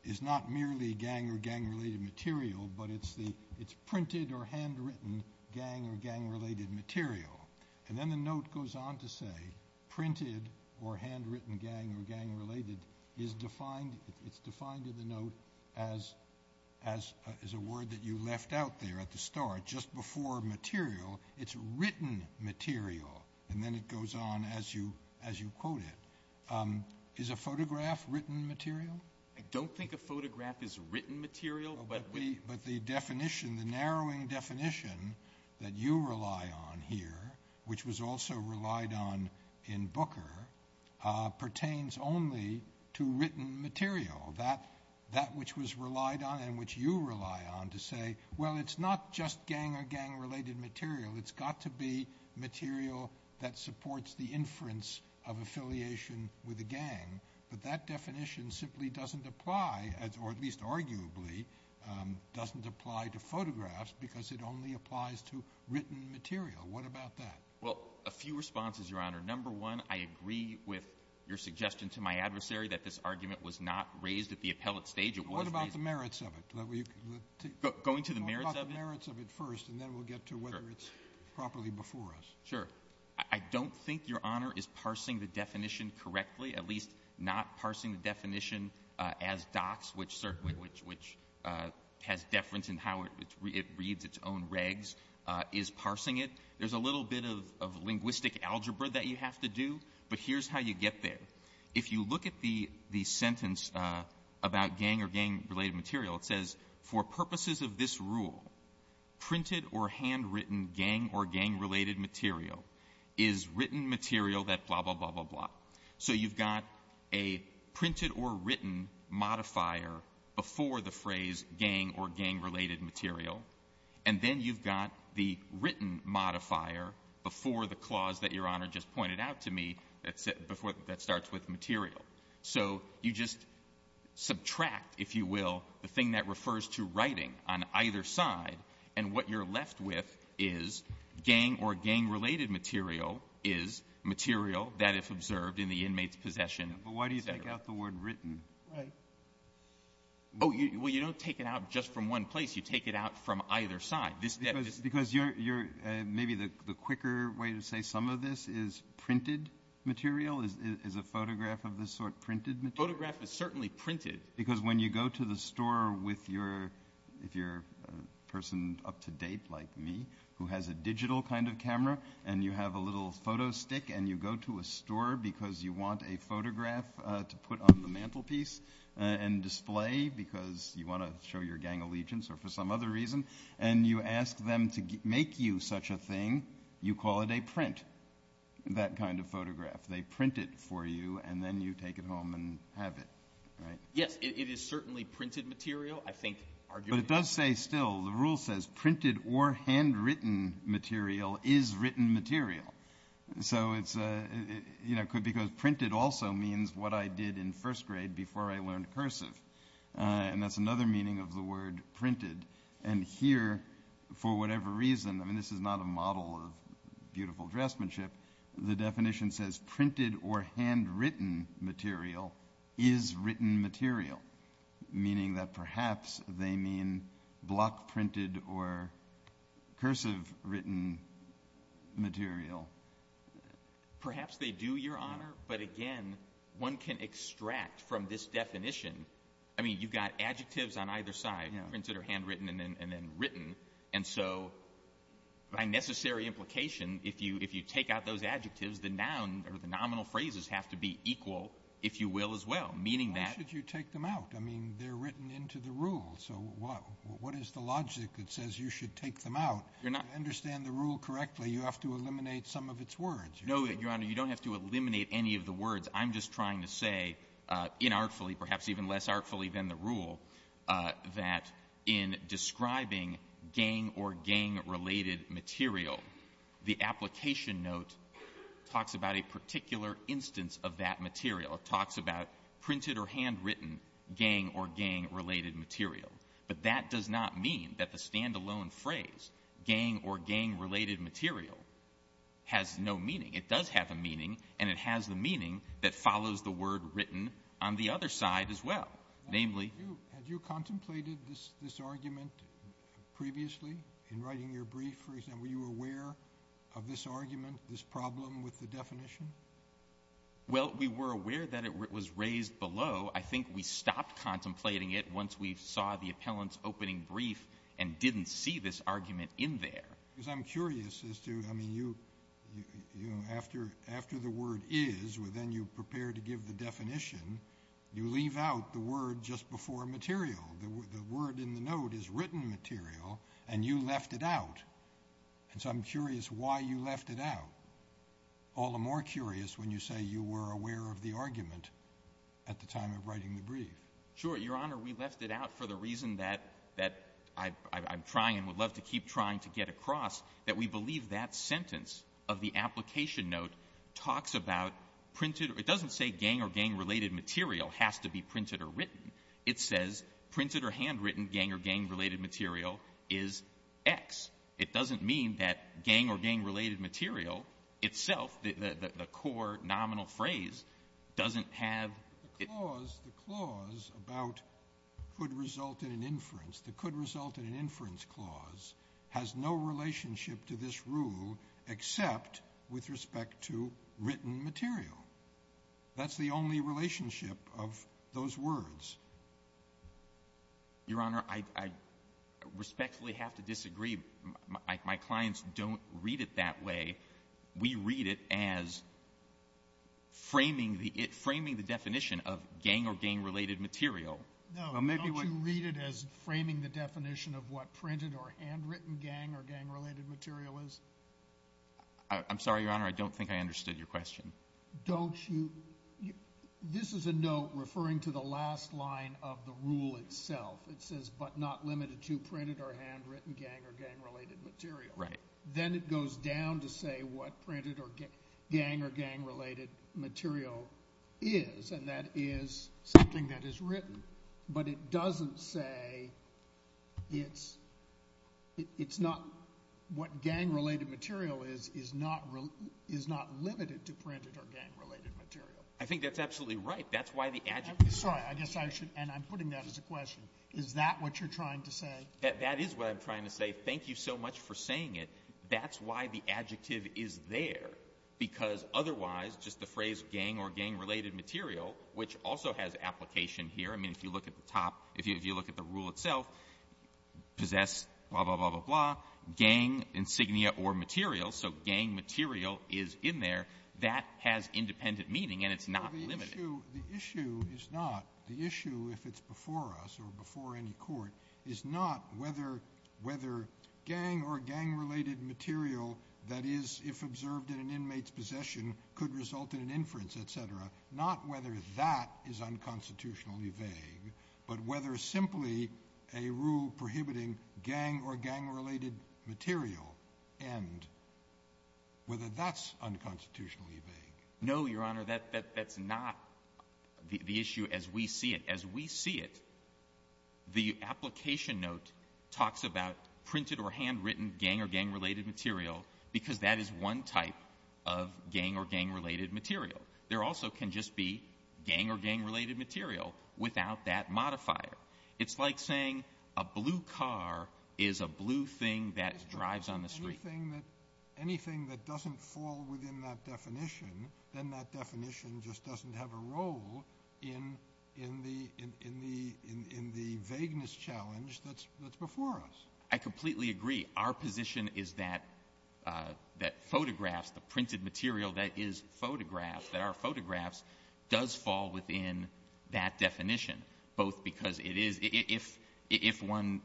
is not merely gang or gang-related material, but it's the – it's printed or handwritten gang or gang-related material. And then the note goes on to say printed or handwritten gang or gang-related is defined – it's defined in the note as a word that you left out there at the start. Just before material, it's written material. And then it goes on as you quote it. Is a photograph written material? I don't think a photograph is written material, but we – but the definition, the narrowing definition that you rely on here, which was also relied on in Booker, pertains only to written material, that which was relied on and which you rely on to say, well, it's not just gang or gang-related material. It's got to be material that supports the inference of affiliation with a gang. But that definition simply doesn't apply, or at least arguably doesn't apply to photographs because it only applies to written material. What about that? Well, a few responses, Your Honor. Number one, I agree with your suggestion to my adversary that this argument was not raised at the appellate stage. It wasn't – What about the merits of it? Going to the merits of it? We'll talk the merits of it first, and then we'll get to whether it's properly before us. Sure. I don't think Your Honor is parsing the definition correctly, at least not parsing the definition as docs, which certainly – which has deference in how it reads its own regs, is parsing it. There's a little bit of linguistic algebra that you have to do, but here's how you get there. If you look at the sentence about gang or gang-related material, it says, for purposes of this rule, printed or handwritten gang or gang-related material is written material that blah, blah, blah, blah, blah. So you've got a printed or written modifier before the phrase gang or gang-related material, and then you've got the written modifier before the clause that Your Honor just pointed out to me that starts with material. So you just subtract, if you will, the thing that refers to writing on either side, and what you're left with is gang or gang-related material is material that is observed in the inmate's possession. But why do you take out the word written? Right. Oh, well, you don't take it out just from one place. You take it out from either side. Because you're – maybe the quicker way to say some of this is printed material, is a photograph of this sort printed material? Photograph is certainly printed. Because when you go to the store with your – if you're a person up-to-date like me who has a digital kind of camera, and you have a little photo stick, and you go to a store because you want a photograph to put on the mantelpiece and display because you want to show your gang allegiance or for some other reason, and you ask them to make you such a thing, you call it a print, that kind of photograph. They print it for you, and then you take it home and have it, right? Yes, it is certainly printed material. I think – But it does say still – the rule says printed or handwritten material is written material. So it's – because printed also means what I did in first grade before I learned cursive, and that's another meaning of the word printed. And here, for whatever reason – I mean, this is not a model of beautiful dressmanship – the definition says printed or handwritten material is written material, meaning that perhaps they mean block-printed or cursive-written material. Perhaps they do, Your Honor, but again, one can extract from this definition – I mean, you've got adjectives on either side, printed or handwritten and then written, and so by necessary implication, if you take out those adjectives, the noun or the nominal phrases have to be equal, if you will, as well, meaning that – Why should you take them out? I mean, they're written into the rule, so what is the logic that says you should take them out? To understand the rule correctly, you have to eliminate some of its words. No, Your Honor, you don't have to eliminate any of the words. I'm just trying to say inartfully, perhaps even less artfully than the rule, that in describing gang or gang-related material, the application note talks about a particular instance of that material. It talks about printed or handwritten gang or gang-related material, but that does not mean that the standalone phrase gang or gang-related material has no meaning. It does have a meaning, and it has the meaning that follows the word written on the other side as well, namely – Have you contemplated this argument previously in writing your brief? For example, were you aware of this argument, this problem with the definition? Well, we were aware that it was raised below. I think we stopped contemplating it once we saw the appellant's opening brief and didn't see this argument in there. Because I'm curious as to – I mean, after the word is, and then you prepare to give the material, the word in the note is written material, and you left it out. So I'm curious why you left it out. All the more curious when you say you were aware of the argument at the time of writing the brief. Sure, Your Honor, we left it out for the reason that I'm trying and would love to keep trying to get across, that we believe that sentence of the application note talks about – it doesn't say gang or gang-related material has to be printed or written. It says printed or handwritten gang or gang-related material is X. It doesn't mean that gang or gang-related material itself, the core nominal phrase, doesn't have – The clause about could result in inference, the could result in inference clause, has no relationship to this rule except with respect to that's the only relationship of those words. Your Honor, I respectfully have to disagree. My clients don't read it that way. We read it as framing the definition of gang or gang-related material. No, don't you read it as framing the definition of what printed or handwritten gang or gang-related material is? I'm sorry, Your Honor, I don't think I understood your question. Don't you – this is a note referring to the last line of the rule itself. It says but not limited to printed or handwritten gang or gang-related material. Then it goes down to say what printed or gang or gang-related material is, and that is something that is written. But it doesn't say what printed or gang-related material is. I think that's absolutely right. That's why the adjective – Sorry, I guess I should – and I'm putting that as a question. Is that what you're trying to say? That is what I'm trying to say. Thank you so much for saying it. That's why the adjective is there because otherwise, just the phrase gang or gang-related material, which also has application here. I mean, if you look at the top – if you look at the rule itself, possess blah, blah, blah, blah, gang insignia or material. So gang material is in there. That has independent meaning, and it's not limited. The issue is not – the issue, if it's before us or before any court, is not whether gang or gang-related material that is, if observed in an inmate's possession, could result in an inference, et cetera. Not whether that is unconstitutionally vague, but whether simply a rule prohibiting gang or gang-related material end, whether that's unconstitutionally vague. No, Your Honor. That's not the issue as we see it. As we see it, the application note talks about printed or handwritten gang or gang-related material because that is one type of gang or gang-related material. There also can just be gang or gang-related material without that modifier. It's like saying a blue car is a blue thing that drives on the street. Anything that doesn't fall within that definition, then that definition just doesn't have a role in the vagueness challenge that's before us. I completely agree. Our position is that photographs, the printed material that is photographed, that are photographs, does fall within that definition, both because it is, if one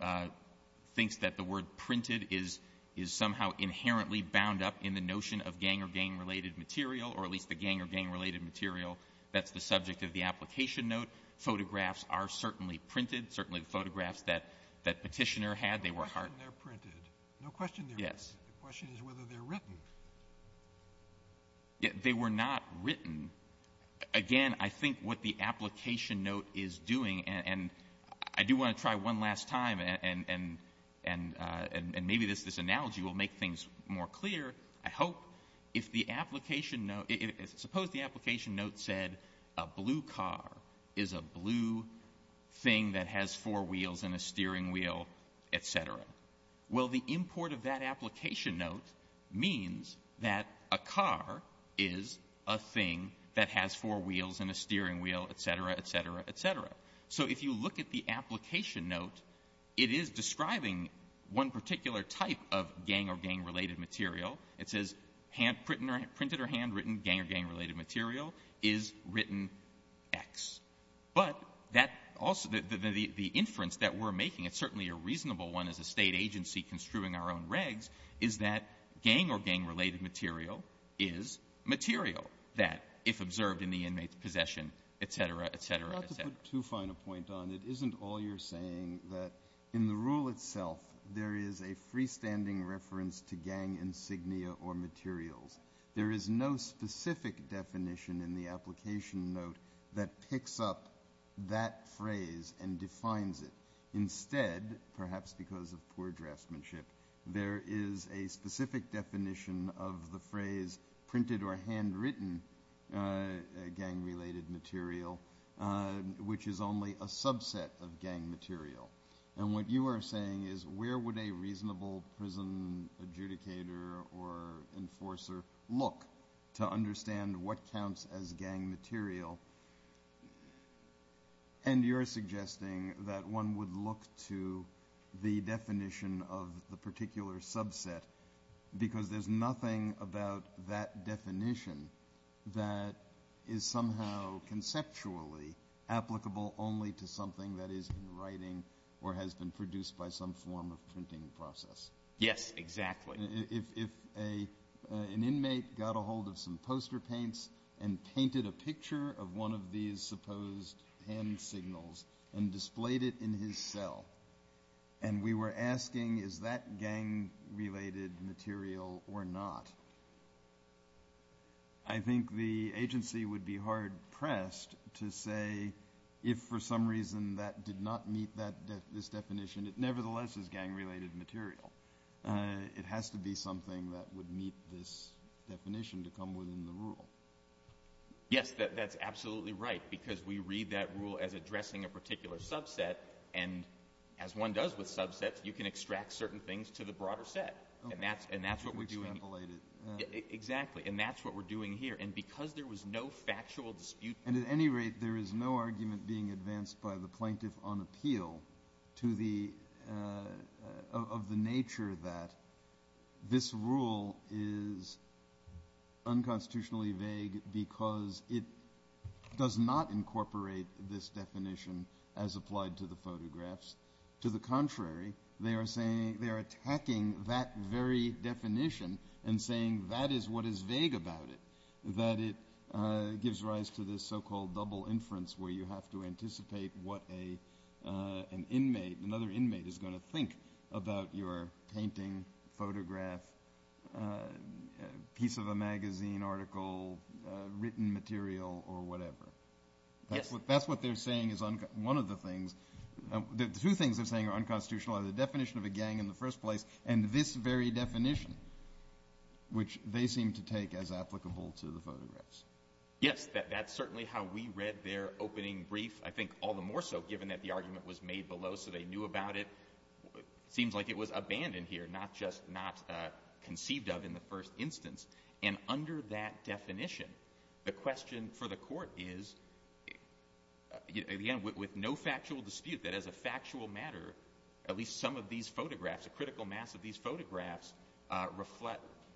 thinks that the word printed is somehow inherently bound up in the notion of gang or gang-related material, or at least the gang or gang-related material that's the subject of the application note, photographs are certainly printed, certainly photographs that Petitioner had, they were hard- No question they're printed. No question they're printed. The question is whether they're written. They were not written. Again, I think what the application note is doing, and I do want to try one last time, and maybe this analogy will make things more clear, I hope. Suppose the application note said a blue car is a blue thing that has four means that a car is a thing that has four wheels and a steering wheel, etc., etc., etc. If you look at the application note, it is describing one particular type of gang or gang-related material. It says printed or handwritten gang or gang-related material is written X. But the inference that we're making, it's certainly a reasonable one as a state agency construing our own regs, is that gang or gang-related material is material. That, if observed in the inmate's possession, etc., etc., etc. I'll just put two final points on. It isn't all you're saying that in the rule itself, there is a freestanding reference to gang insignia or material. There is no specific definition in the application note that picks up that phrase and defines it. Instead, perhaps because of poor draftsmanship, there is a specific definition of the phrase printed or handwritten gang-related material, which is only a subset of gang material. And what you are saying is where would a reasonable prison adjudicator or enforcer look to understand what counts as gang material? And you're suggesting that one would look to the definition of the particular subset because there's nothing about that definition that is somehow conceptually applicable only to something that is in writing or has been produced by some form of printing process. Yes, exactly. If an inmate got a hold of some poster paints and painted a picture of one of these supposed hand signals and displayed it in his cell, and we were asking is that gang-related material or not, I think the agency would be hard-pressed to say if, for some reason, that did not this definition, it nevertheless is gang-related material. It has to be something that would meet this definition to come within the rule. Yes, that's absolutely right, because we read that rule as addressing a particular subset. And as one does with subsets, you can extract certain things to the broader set. And that's what we're doing. Exactly. And that's what we're doing here. And because there was no factual dispute. At any rate, there is no argument being advanced by the plaintiff on appeal of the nature that this rule is unconstitutionally vague because it does not incorporate this definition as applied to the photographs. To the contrary, they are attacking that very definition and saying that is what is vague about it, that it gives rise to this so-called double inference where you have to anticipate what an inmate, another inmate, is going to think about your painting, photograph, piece of a magazine article, written material, or whatever. That's what they're saying is one of the things – two things they're saying are unconstitutional – the definition of a gang in the first place and this very definition, which they seem to take as applicable to the photographs. Yes, that's certainly how we read their opening brief. I think all the more so, given that the argument was made below so they knew about it. It seems like it was abandoned here, not just not conceived of in the first instance. And under that definition, the question for the court is, again, with no factual dispute, that as a factual matter, at least some of these photographs, a critical mass of these photographs,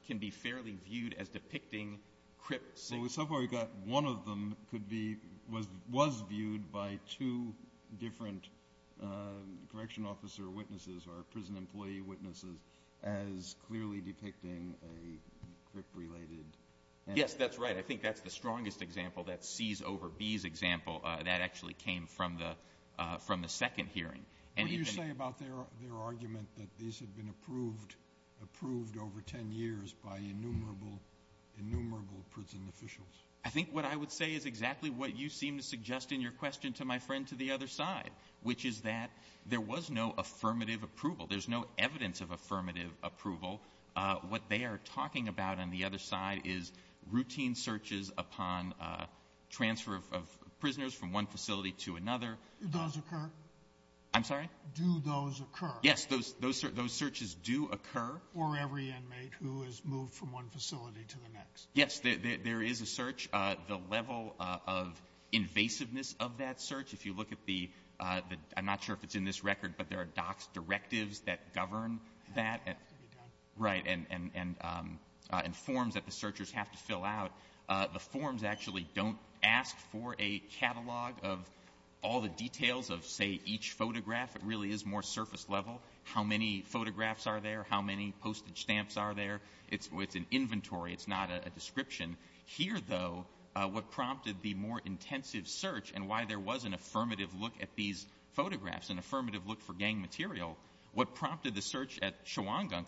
can be fairly viewed as depicting crypts. Well, so far we've got one of them could be – was viewed by two different correction officer witnesses or prison employee witnesses as clearly depicting a crypt-related – Yes, that's right. I think that's the strongest example, that C's over B's example. That actually came from the second hearing. What do you say about their argument that these have been approved over 10 years by innumerable prison officials? I think what I would say is exactly what you seem to suggest in your question to my friend to the other side, which is that there was no affirmative approval. There's no evidence of routine searches upon transfer of prisoners from one facility to another. Does occur? I'm sorry? Do those occur? Yes, those searches do occur. For every inmate who has moved from one facility to the next. Yes, there is a search. The level of invasiveness of that search, if you look at the – I'm not sure if it's in this record, but there are DOCS directives that govern that. Right, and forms that the searchers have to fill out. The forms actually don't ask for a catalog of all the details of, say, each photograph. It really is more surface level. How many photographs are there? How many postage stamps are there? It's with an inventory. It's not a description. Here, though, what prompted the more intensive search and why there was an affirmative look at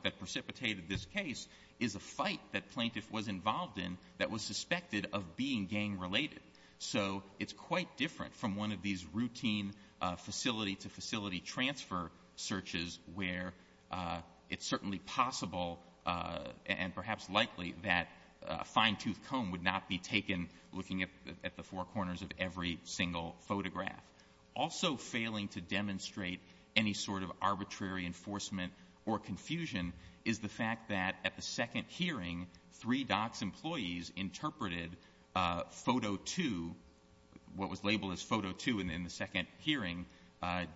that precipitated this case is a fight that plaintiff was involved in that was suspected of being gang-related. So it's quite different from one of these routine facility-to-facility transfer searches where it's certainly possible and perhaps likely that a fine-toothed comb would not be taken looking at the four corners of every single photograph. Also failing to demonstrate any sort of arbitrary enforcement or confusion is the fact that at the second hearing, three DOCS employees interpreted photo two, what was labeled as photo two in the second hearing,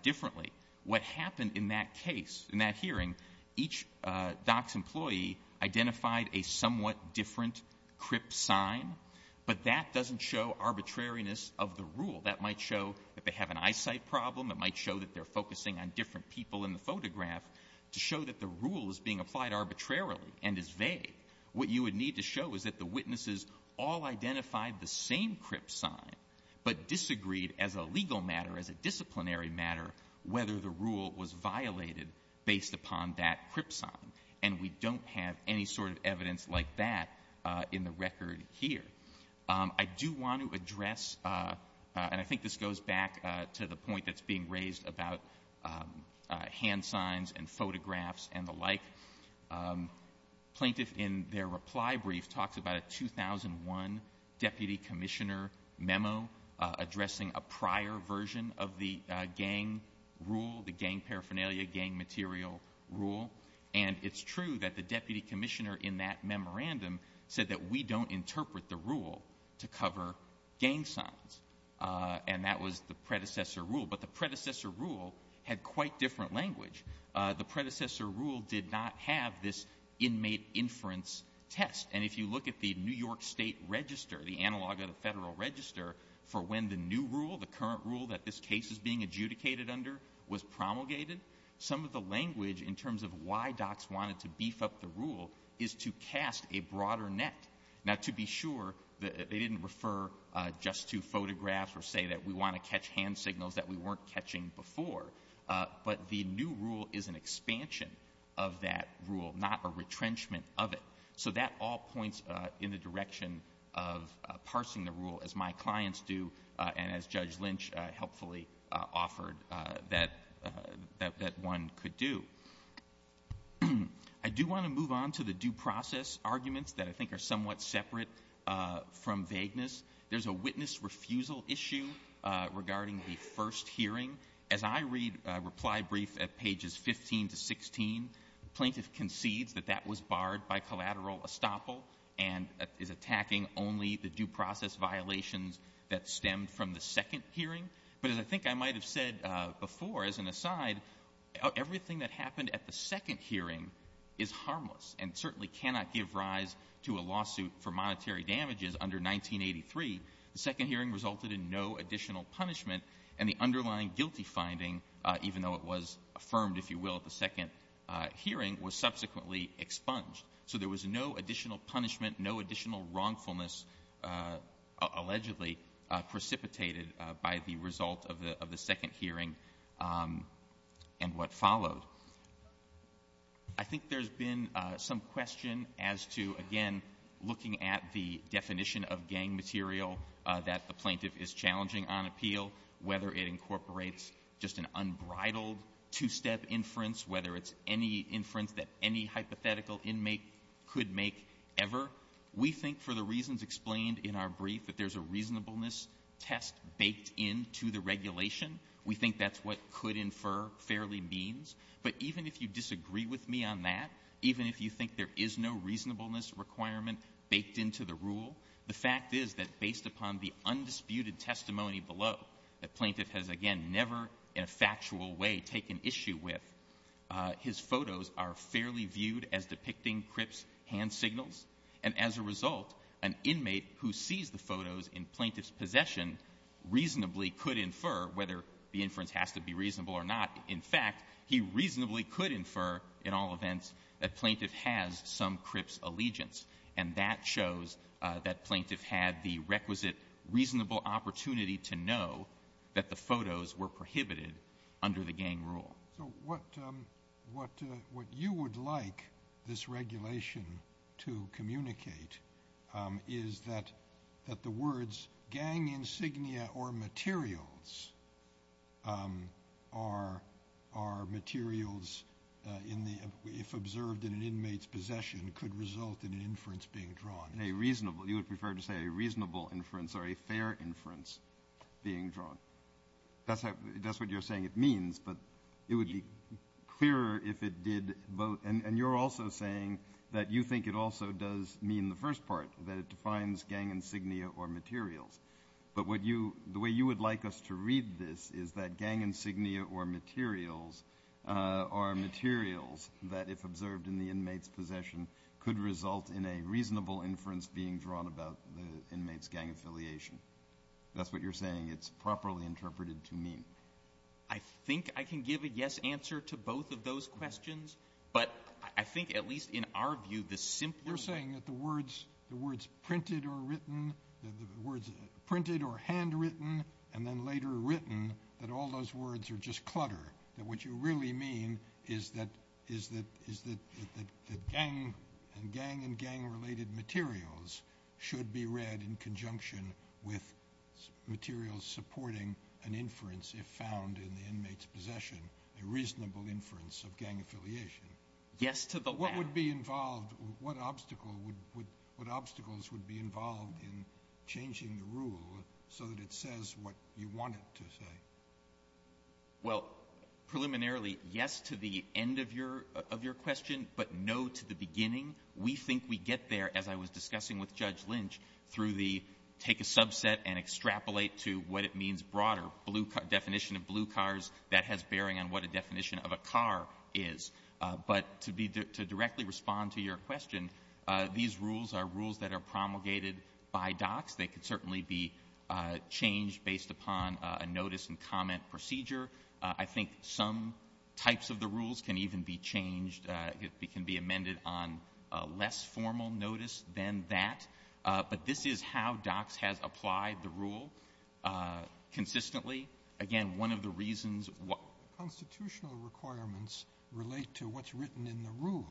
differently. What happened in that case, in that hearing, each DOCS employee identified a somewhat different crip sign, but that doesn't show arbitrariness of the rule. That might show that they have an eyesight problem. It might show that they're focusing on different people in the photograph to show that the rule is being applied arbitrarily and is vague. What you would need to show is that the witnesses all identified the same crip sign, but disagreed as a legal matter, as a disciplinary matter, whether the rule was violated based upon that crip sign. And we don't have any sort of evidence like that in the record here. I do want to address, and I think this goes back to the point that's being raised about hand signs and photographs and the like. Plaintiffs in their reply brief talked about a 2001 Deputy Commissioner memo addressing a prior version of the gang rule, the gang paraphernalia, gang material rule. And it's true that the Deputy Commissioner in that memorandum said that we don't interpret the rule to cover gang signs. And that was the predecessor rule. But the predecessor rule had quite different language. The predecessor rule did not have this inmate inference test. And if you look at the New York State Register, the analog of the Federal Register, for when the new rule, the current rule that this case is being adjudicated under, was promulgated, some of the language in terms of why DOCS wanted to beef up the rule is to cast a broader net. Now, to be sure, they didn't refer just to photographs or say that we want to catch hand signals that we weren't catching before. But the new rule is an expansion of that rule, not a retrenchment of it. So that all points in the direction of parsing the rule, as my clients do and as Judge Lynch helpfully offered that one could do. I do want to move on to the due process arguments that I think are somewhat separate from vagueness. There's a witness refusal issue regarding the first hearing. As I read a reply brief at pages 15 to 16, the plaintiff concedes that that was barred by collateral estoppel and is attacking only the due process violations that stemmed from the second hearing. But as I might have said before, as an aside, everything that happened at the second hearing is harmless and certainly cannot give rise to a lawsuit for monetary damages under 1983. The second hearing resulted in no additional punishment and the underlying guilty finding, even though it was affirmed, if you will, at the second hearing, was subsequently expunged. So there was no additional punishment, no additional wrongfulness allegedly precipitated by the results of the second hearing and what followed. I think there's been some question as to, again, looking at the definition of gang material that the plaintiff is challenging on appeal, whether it incorporates just an unbridled two-step inference, whether it's any inference that any hypothetical inmate could make ever. We think, for the reasons explained in our brief, that there's a reasonableness test baked into the regulation. We think that's what could infer fairly means. But even if you disagree with me on that, even if you think there is no reasonableness requirement baked into the rule, the fact is that based upon the undisputed testimony below that plaintiff has, again, never in a factual way taken issue with, his photos are fairly viewed as depicting Cripp's hand signals. And as a result, an inmate who sees the photos in plaintiff's possession reasonably could infer, whether the inference has to be reasonable or not. In fact, he reasonably could infer, in all events, that plaintiff has some Cripp's allegiance. And that shows that plaintiff had the requisite reasonable opportunity to know that the photos were prohibited under the gang rule. So what you would like this regulation to communicate is that the words gang insignia or materials are materials if observed in an inmate's possession could result in an inference being drawn. A reasonable. You would prefer to say a reasonable inference or a fair inference being drawn. That's what you're saying it means, but it would be clearer if it did both. And you're also saying that you think it also does mean the first part, that it defines gang insignia or materials. But the way you would like us to read this is that gang insignia or materials are materials that, if observed in the inmate's possession, could result in a reasonable inference being drawn about the inmate's gang affiliation. That's what you're saying. It's properly interpreted to me. I think I can give a yes answer to both of those questions. But I think, at least in our view, the simpler... You're saying that the words printed or written, the words printed or handwritten, and then later written, that all those words are just clutter. What you really mean is that the gang and gang-related materials should be read in conjunction with materials supporting an inference if found in the inmate's possession, a reasonable inference of gang affiliation. What obstacles would be involved in changing the rule so that it says what you want it to say? Well, preliminarily, yes to the end of your question, but no to the beginning. We think we get there, as I was discussing with Judge Lynch, through the take a subset and extrapolate to what it means broader. The definition of blue cars, that has bearing on what a definition of a car is. But to directly respond to your question, these rules are rules that are promulgated by DOCS. They can certainly be changed based upon a notice and comment procedure. I think some types of the rules can even be changed. It can be amended on a less formal notice than that. But this is how DOCS has applied the rule consistently. Again, one of the reasons what constitutional requirements relate to what's written in the rule,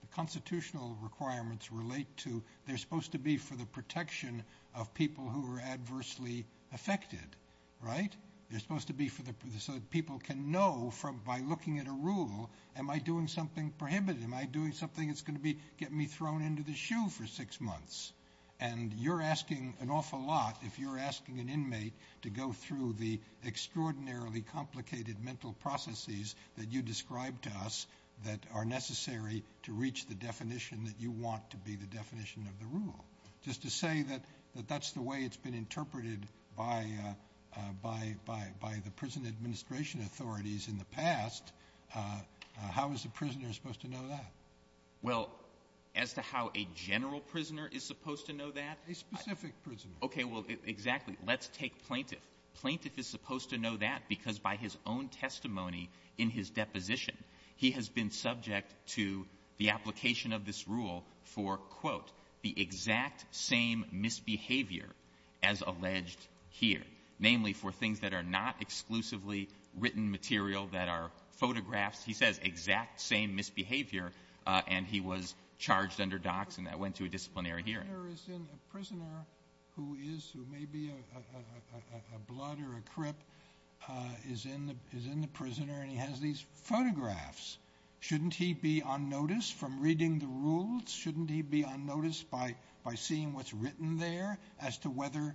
the constitutional requirements relate to, they're supposed to be for the protection of people who are adversely affected, right? They're supposed to be so people can know by looking at a rule, am I doing something prohibited? Am I doing something that's going to be getting me thrown into the shoe for six months? And you're asking an awful lot if you're asking an inmate to go through the extraordinarily complicated mental processes that you described to us that are necessary to reach the definition that you want to be the definition of the rule. Just to say that that's the way it's been interpreted by the prison administration authorities in the past, how is the prisoner supposed to know that? Well, as to how a general prisoner is supposed to know that? A specific prisoner. Okay, well, exactly. Let's take plaintiff. Plaintiff is supposed to know that because by his own testimony in his deposition, he has been subject to the application of this rule for, quote, the exact same misbehavior as alleged here, namely for things that are not exclusively written material that are photographs. He says exact same misbehavior, and he was charged under docs, and that went to a disciplinary hearing. A prisoner who is, who may be a blood or a crip, is in the prisoner and he has these photographs. Shouldn't he be on notice from reading the rules? Shouldn't he be on notice by seeing what's written there as to whether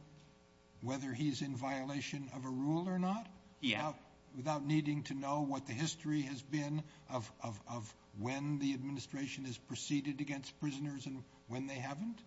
he's in violation of a rule or not? Yeah. Without needing to know what the history has been of when the administration has prisoners and when they haven't?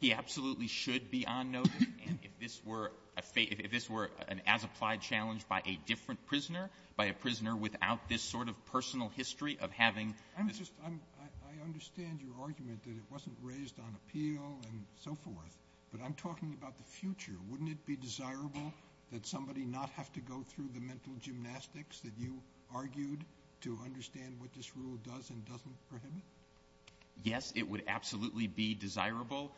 He absolutely should be on notice, and if this were an as-applied challenge by a different prisoner, by a prisoner without this sort of personal history of having... I understand your argument that it wasn't raised on appeal and so forth, but I'm talking about the future. Wouldn't it be desirable that somebody not have to go through the mental gymnastics that you argued to understand what this rule does and doesn't prohibit? Yes, it would absolutely be desirable.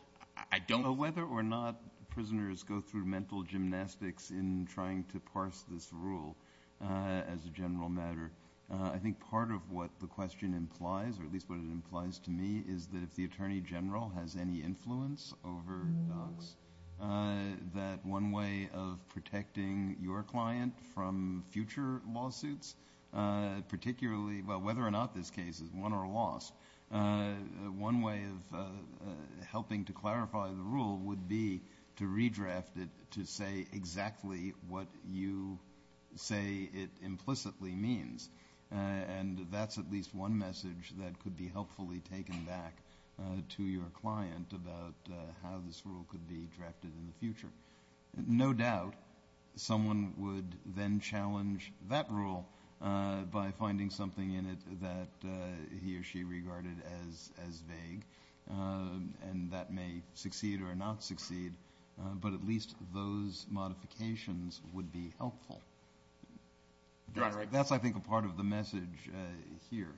I don't... Whether or not prisoners go through mental gymnastics in trying to parse this rule as a general matter, I think part of what the question implies, or at least what it implies to me, is that if the attorney general has any influence over docs, that one way of protecting your client from future lawsuits, particularly about whether or not this case is won or lost, one way of helping to clarify the rule would be to redraft it to say exactly what you say it implicitly means, and that's at least one message that could be helpfully taken back to your client about how this rule could be drafted in the future. No doubt someone would then challenge that rule by finding something in it that he or she regarded as vague, and that may succeed or not succeed, but at least those modifications would be helpful. That's, I think, a part of the message here.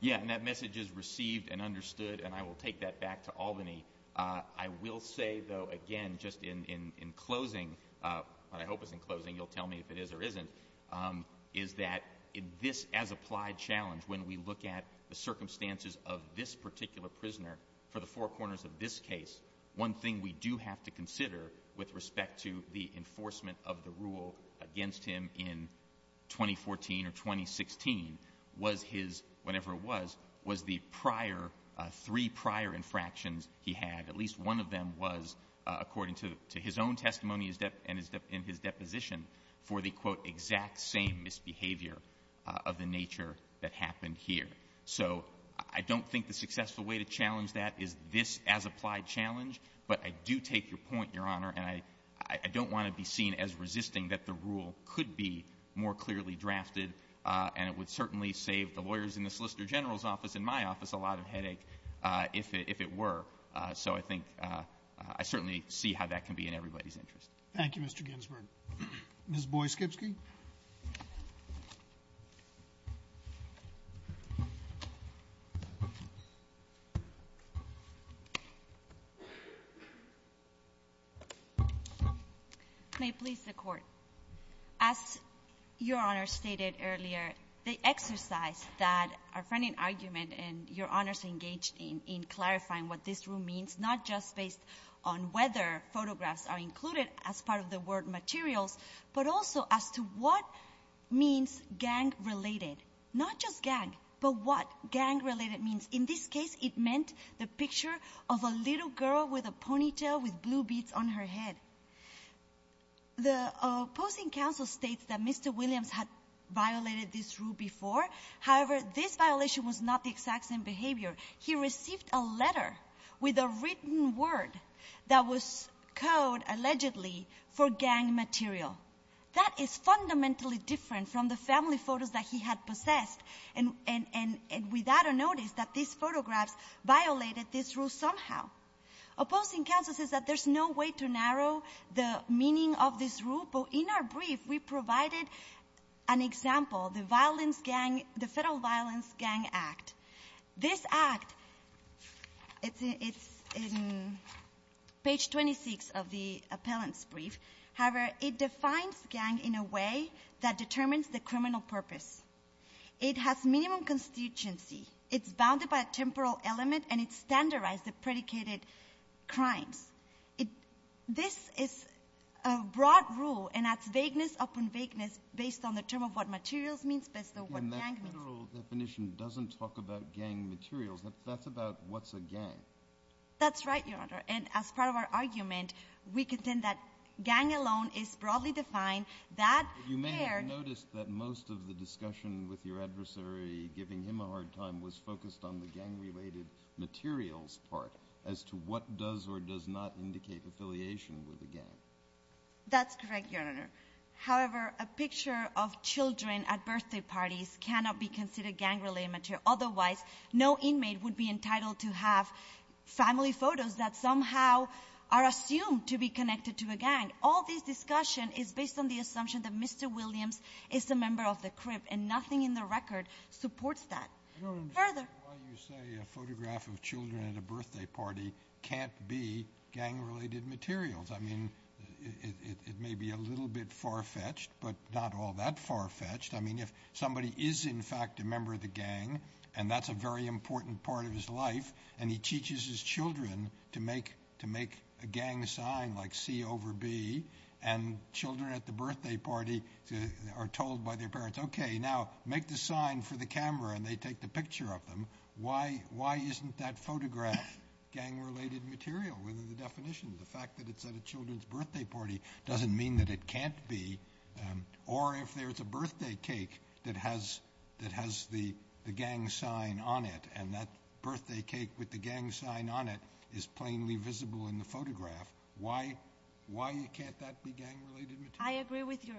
Yeah, and that message is received and understood, and I will take that back to Albany. I will say, though, again, just in closing, what I hope is in closing, you'll tell me if it is or isn't, is that in this as-applied challenge, when we look at the circumstances of this particular prisoner for the four corners of this case, one thing we do have to consider with respect to the enforcement of the rule against him in 2014 or 2016 was his, whenever it was, was the prior, three prior infractions he had, at least one of them was, according to his own testimony and his deposition, for the, quote, exact same misbehavior of the nature that happened here. So I don't think the successful way to challenge that is this as-applied challenge, but I do take your point, Your Honor, and I don't want to be seen as resisting that the rule could be more clearly drafted, and it would certainly save the lawyers in the if it were, so I think, I certainly see how that can be in everybody's interest. Thank you, Mr. Ginsburg. Ms. Boies-Kipsky. May it please the Court, as Your Honor stated earlier, the exercise that our friendly argument and Your Honors engaged in clarifying what this rule means, not just based on whether photographs are included as part of the word material, but also as to what means gang-related, not just gang, but what gang-related means. In this case, it meant the picture of a little girl with a ponytail with blue beads on her head. The opposing counsel states that Mr. Williams had violated this rule before, however, this violation was not the exact same behavior. He received a letter with a written word that was code, allegedly, for gang material. That is fundamentally different from the family photos that he had possessed, and without a notice that these photographs violated this rule somehow. Opposing counsel says that there's no way to narrow the meaning of this rule, but in our brief, we provided an example, the Federal Violence Gang Act. This act, it's in page 26 of the appellant's brief, however, it defines gang in a way that determines the criminal purpose. It has minimum constituency, it's bounded by a temporal element, and it's standardized the based on the term of what materials means, but what gang means. And that general definition doesn't talk about gang materials, that's about what's a gang. That's right, Your Honor, and as part of our argument, we contend that gang alone is broadly defined, that shared... You may have noticed that most of the discussion with your adversary, giving him a hard time, was focused on the gang-related materials part, as to what does or does not indicate affiliation with the gang. That's correct, Your Honor. However, a picture of children at birthday parties cannot be considered gang-related material. Otherwise, no inmate would be entitled to have family photos that somehow are assumed to be connected to a gang. All this discussion is based on the assumption that Mr. Williams is a member of the crimp, and nothing in the record supports that. Your Honor, why do you say a photograph of children at a birthday party can't be gang-related materials? It may be a little bit far-fetched, but not all that far-fetched. If somebody is, in fact, a member of the gang, and that's a very important part of his life, and he teaches his children to make a gang sign, like C over B, and children at the birthday party are told by their parents, okay, now, make the sign for the camera, and they take the picture of them, why isn't that photograph gang-related material? What are the definitions? The fact that it's at a children's birthday party doesn't mean that it can't be. Or if there's a birthday cake that has the gang sign on it, and that birthday cake with the gang sign on it is plainly visible in the photograph, why can't that be gang-related material? I agree with you,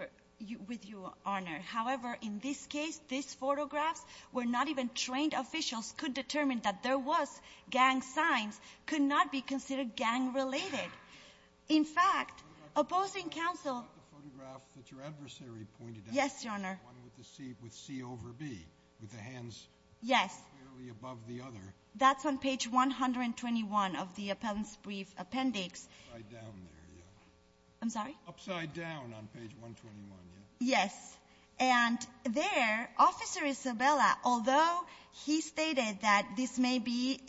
Your Honor. However, in this case, this photograph, where not even trained officials could determine that there was gang signs, could not be considered gang-related. In fact, opposing counsel... Was that the photograph that your adversary pointed at? Yes, Your Honor. The one with the C over B, with the hands... Yes. ...clearly above the other. That's on page 121 of the appellant's brief appendix. Upside-down. I'm sorry? Upside-down on page 121, yes. Yes. And there, Officer Isabella, although he stated that this may be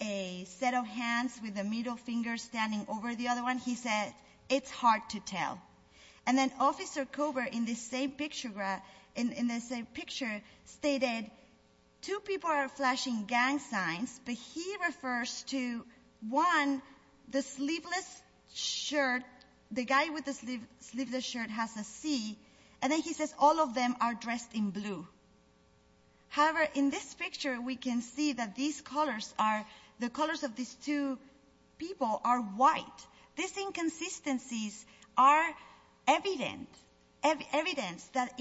a set of hands with a middle finger standing over the other one, he said, it's hard to tell. And then Officer Kober, in the same picture, stated, two people are flashing gang signs, but he refers to, one, the sleeveless shirt, the guy with the sleeveless shirt has a C, and then he says, all of them are dressed in blue. However, in this picture, we can see that these colors are, the colors of these two people are white. These inconsistencies are evidence that,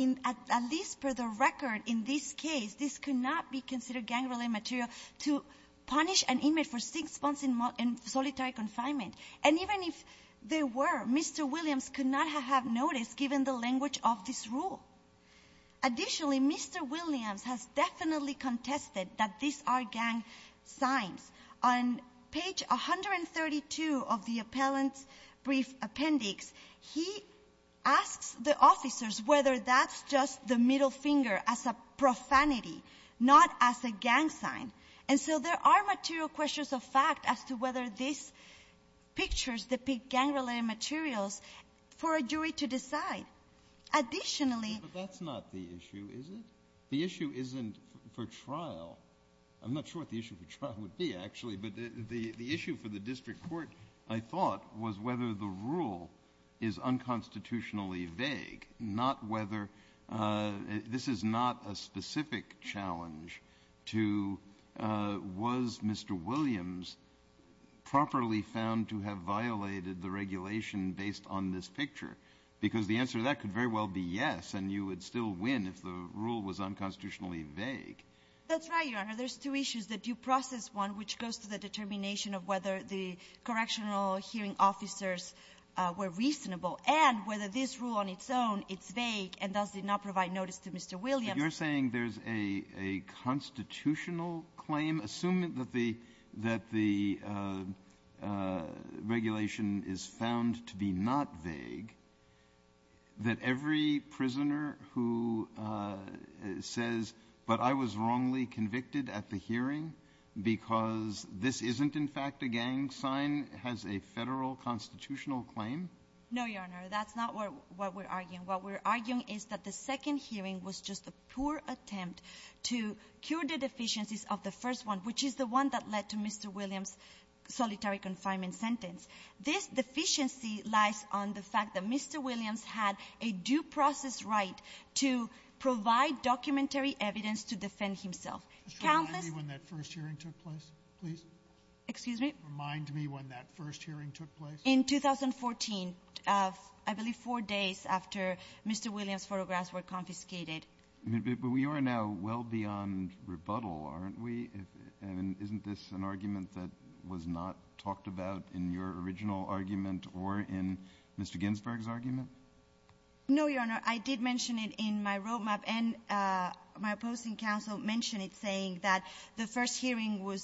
at least for the record, in this case, this could not be considered gang-related material. To punish an image for six months in solitary consignment, and even if they were, Mr. Williams could not have noticed, given the language of this rule. Additionally, Mr. Williams has definitely contested that these are gang signs. On page 132 of the appellant's brief appendix, he asks the officers whether that's just the middle finger as a profanity, not as a gang sign. And so there are material questions of fact as to whether these pictures depict gang-related materials for a jury to decide. Additionally- But that's not the issue, is it? The issue isn't for trial. I'm not sure what the issue for trial would be, actually, but the issue for the district court, I thought, was whether the rule is not a specific challenge to, was Mr. Williams properly found to have violated the regulation based on this picture? Because the answer to that could very well be yes, and you would still win if the rule was unconstitutionally vague. That's right, Your Honor. There's two issues, a due process one, which goes to the determination of whether the correctional hearing officers were reasonable, and whether this rule on its own is vague and thus did not provide notice to Mr. Williams. You're saying there's a constitutional claim, assuming that the regulation is found to be not vague, that every prisoner who says, but I was wrongly convicted at the hearing because this isn't in fact a gang sign, has a federal constitutional claim? No, Your Honor, that's not what we're arguing. What we're arguing is that the second hearing was just a poor attempt to cure the deficiencies of the first one, which is the one that led to Mr. Williams' solitary confinement sentence. This deficiency lies on the fact that Mr. Williams had a due process right to provide documentary evidence to defend himself. Remind me when that first hearing took place, please. Excuse me? Remind me when that first hearing took place. In 2014, I believe four days after Mr. Williams' photographs were confiscated. But we are now well beyond rebuttal, aren't we? And isn't this an argument that was not talked about in your original argument or in Mr. Ginsburg's argument? No, Your Honor, I believe that the first hearing was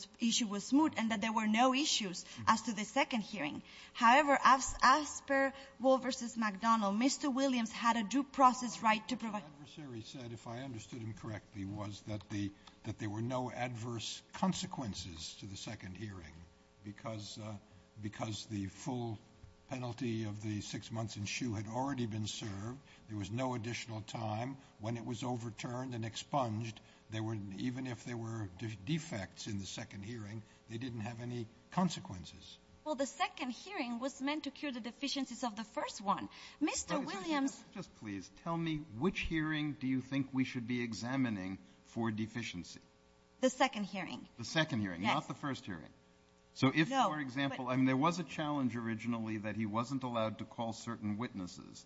smooth and that there were no issues as to the second hearing. However, as per Wall v. McDonnell, Mr. Williams had a due process right to provide... The adversary said, if I understood him correctly, was that there were no adverse consequences to the second hearing because the full penalty of the six months in shoe had already been served. There was no additional time. When it was overturned and expunged, even if there were defects in the second hearing, they didn't have any consequences. Well, the second hearing was meant to cure the deficiencies of the first one. Mr. Williams... Just please tell me which hearing do you think we should be examining for deficiency? The second hearing. The second hearing, not the first hearing. So if, for example, I mean, there was a challenge originally that he wasn't allowed to call certain witnesses,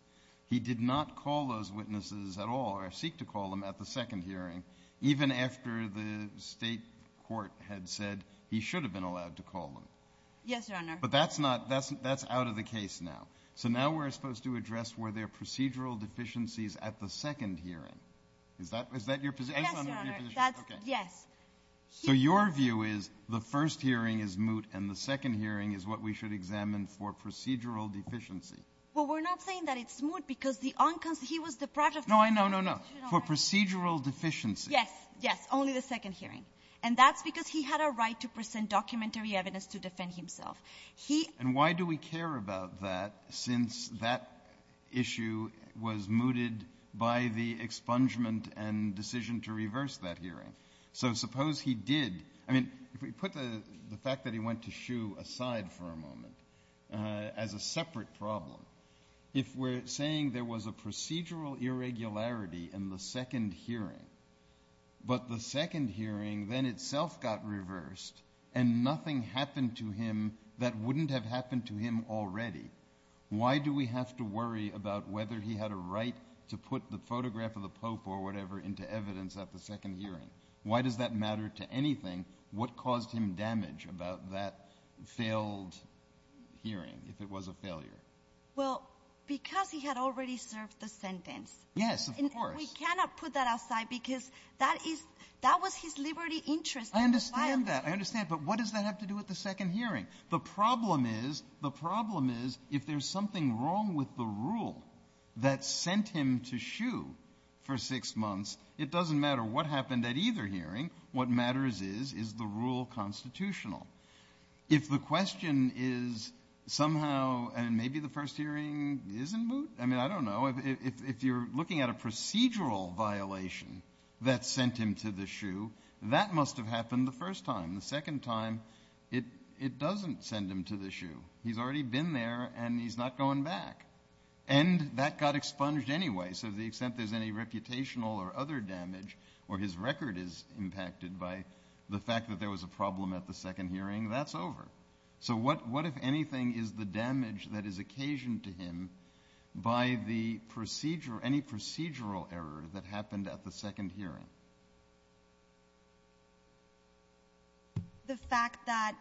he did not call those witnesses at all or seek to call them at the second hearing, even after the state court had said he should have been allowed to call them. Yes, Your Honor. But that's not... That's out of the case now. So now we're supposed to address, were there procedural deficiencies at the second hearing? Is that your position? Yes, Your Honor. Yes. So your view is the first hearing is moot and the second hearing is what we should examine for procedural deficiency. Well, we're not saying that it's moot because he was deprived of... No, I know, no, no. For procedural deficiency. Yes, yes. Only the second hearing. And that's because he had a right to present documentary evidence to defend himself. He... And why do we care about that since that issue was mooted by the expungement and decision to reverse that as a separate problem? If we're saying there was a procedural irregularity in the second hearing, but the second hearing then itself got reversed and nothing happened to him that wouldn't have happened to him already, why do we have to worry about whether he had a right to put the photograph of the Pope or whatever into evidence at the second hearing? Why does that matter to anything? What caused him damage about that failed hearing if it was a failure? Well, because he had already served the sentence. Yes, of course. And we cannot put that aside because that was his liberty interest. I understand that. I understand. But what does that have to do with the second hearing? The problem is if there's something wrong with the rule that sent him to shoe for six months, it doesn't matter what happened at either hearing. What matters is, is the rule constitutional. If the question is somehow, and maybe the first hearing isn't moot. I mean, I don't know. If you're looking at a procedural violation that sent him to the shoe, that must have happened the first time. The second time, it doesn't send him to the shoe. He's already been there and he's not going back. And that got expunged anyway. So the extent there's any reputational or other damage where his record is impacted by the fact that there was a problem at the second hearing, that's over. So what if anything is the damage that is occasioned to him by the procedure, any procedural error that happened at the second hearing? The fact that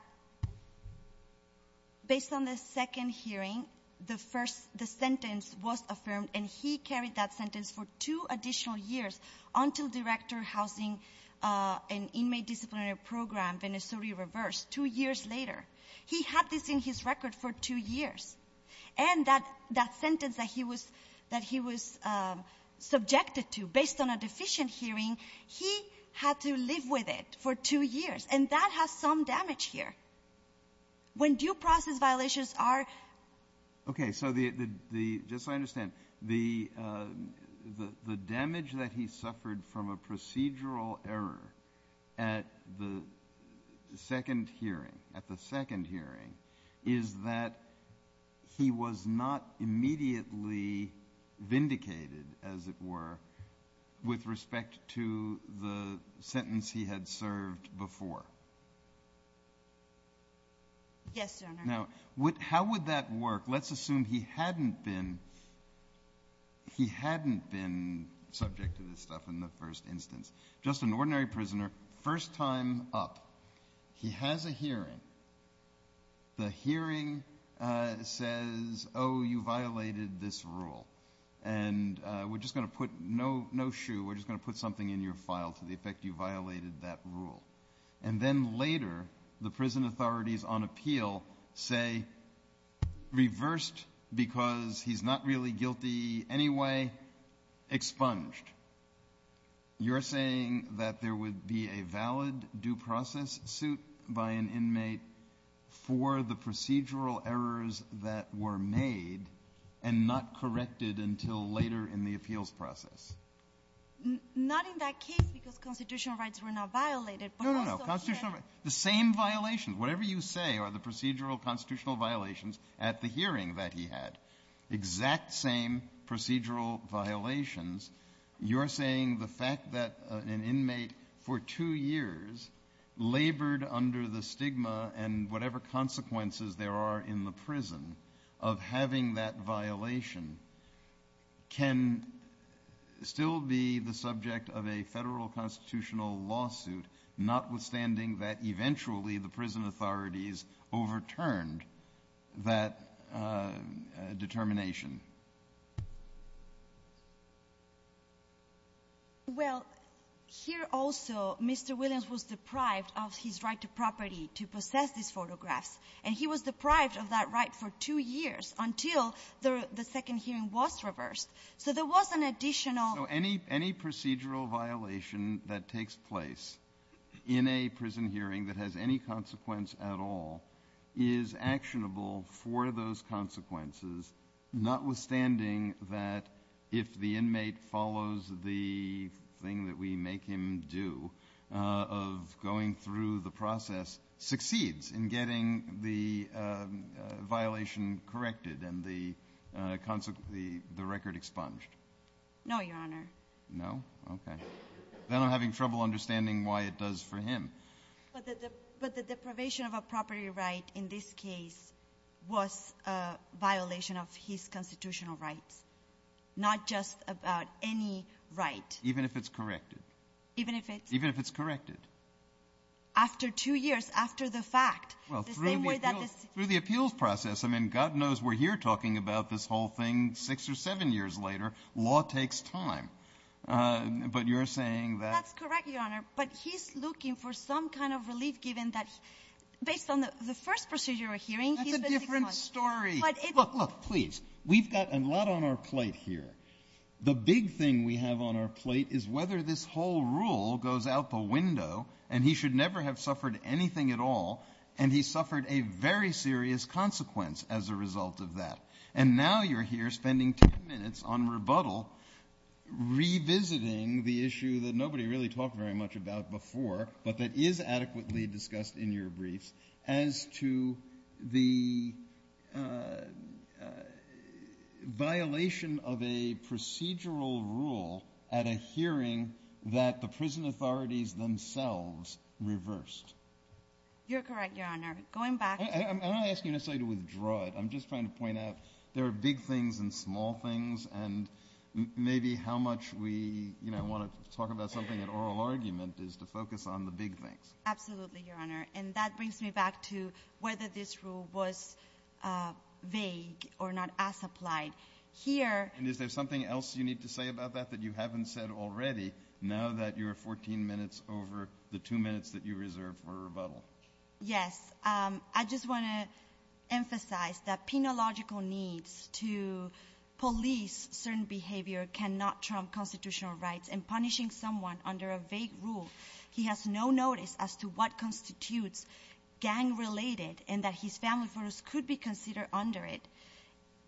based on the second hearing, the sentence was affirmed and he carried that sentence for two additional years until Director Housing and Inmate Disciplinary Program, Venezuela reversed two years later. He had this in his record for two years. And that sentence that he was subjected to based on a deficient hearing, he had to live with it for two years. And that has some damage here. When due process violations are... Okay. So just so I understand, the damage that he suffered from a procedural error at the second hearing is that he was not immediately vindicated, as it were, with respect to the sentence he had served before. Yes, Your Honor. Now, how would that work? Let's assume he hadn't been subject to this stuff in the first instance. Just an ordinary prisoner, first time up, he has a hearing. The hearing says, oh, you violated this rule. And we're just going to put no shoe, we're just going to put something in your file to the effect you violated that rule. And then later, the prison authorities on appeal say, reversed because he's not really guilty anyway, expunged. You're saying that there would be a valid due process suit by an inmate for the procedural errors that were made and not corrected until later in the appeals process? Not in that case, because constitutional rights were not violated. No, no, no, constitutional rights. The same violations, whatever you say, the procedural constitutional violations at the hearing that he had, exact same procedural violations. You're saying the fact that an inmate for two years labored under the stigma and whatever consequences there are in the prison of having that violation can still be the subject of a federal constitutional lawsuit, notwithstanding that eventually the prison authorities overturned that determination? Well, here also, Mr. Williams was deprived of his right to property to possess this photograph. And he was deprived of that right for two years until the second hearing was reversed. So there was an additional- Any procedural violation that takes place in a prison hearing that has any consequence at all is actionable for those consequences, notwithstanding that if the inmate follows the thing that we make him do of going through the process, succeeds in getting the and the record expunged? No, Your Honor. No? Okay. Then I'm having trouble understanding why it does for him. But the deprivation of a property right in this case was a violation of his constitutional rights, not just about any right. Even if it's corrected? Even if it's- Even if it's corrected? After two years, after the fact, the same way that this- Through the appeals process. I mean, God knows we're here talking about this whole thing six or seven years later. Law takes time. But you're saying that- That's correct, Your Honor. But he's looking for some kind of relief, given that based on the first procedural hearing- That's a different story. But it- Look, look, please. We've got a lot on our plate here. The big thing we have on our plate is whether this whole rule goes out the window, and he should never have suffered anything at all, and he suffered a very serious consequence as a result of that. And now you're here spending 10 minutes on rebuttal, revisiting the issue that nobody really talked very much about before, but that is adequately discussed in your brief, as to the violation of a procedural rule at a hearing that the prison authorities themselves reversed. You're correct, Your Honor. Going back- I'm not asking you necessarily to withdraw it. I'm just trying to point out there are big things and small things, and maybe how much we want to talk about something in oral argument is to focus on the big things. Absolutely, Your Honor. And that brings me back to whether this rule was vague or not as applied. Here- Is there something else you need to say about that that you haven't said already, now that you're 14 minutes over the two minutes that you reserved for rebuttal? Yes. I just want to emphasize that penological needs to police certain behavior cannot trump constitutional rights, and punishing someone under a vague rule, he has no notice as to what constitutes gang-related, and that his family photos could be considered under it,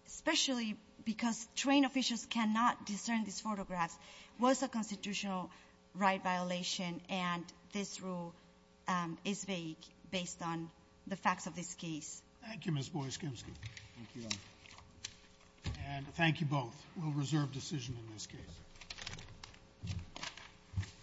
especially because trained officials cannot discern these photographs, was a constitutional right violation, and this rule is vague based on the facts of this case. Thank you, Ms. Boyes-Gimsky. And thank you both. We'll reserve decision in this case.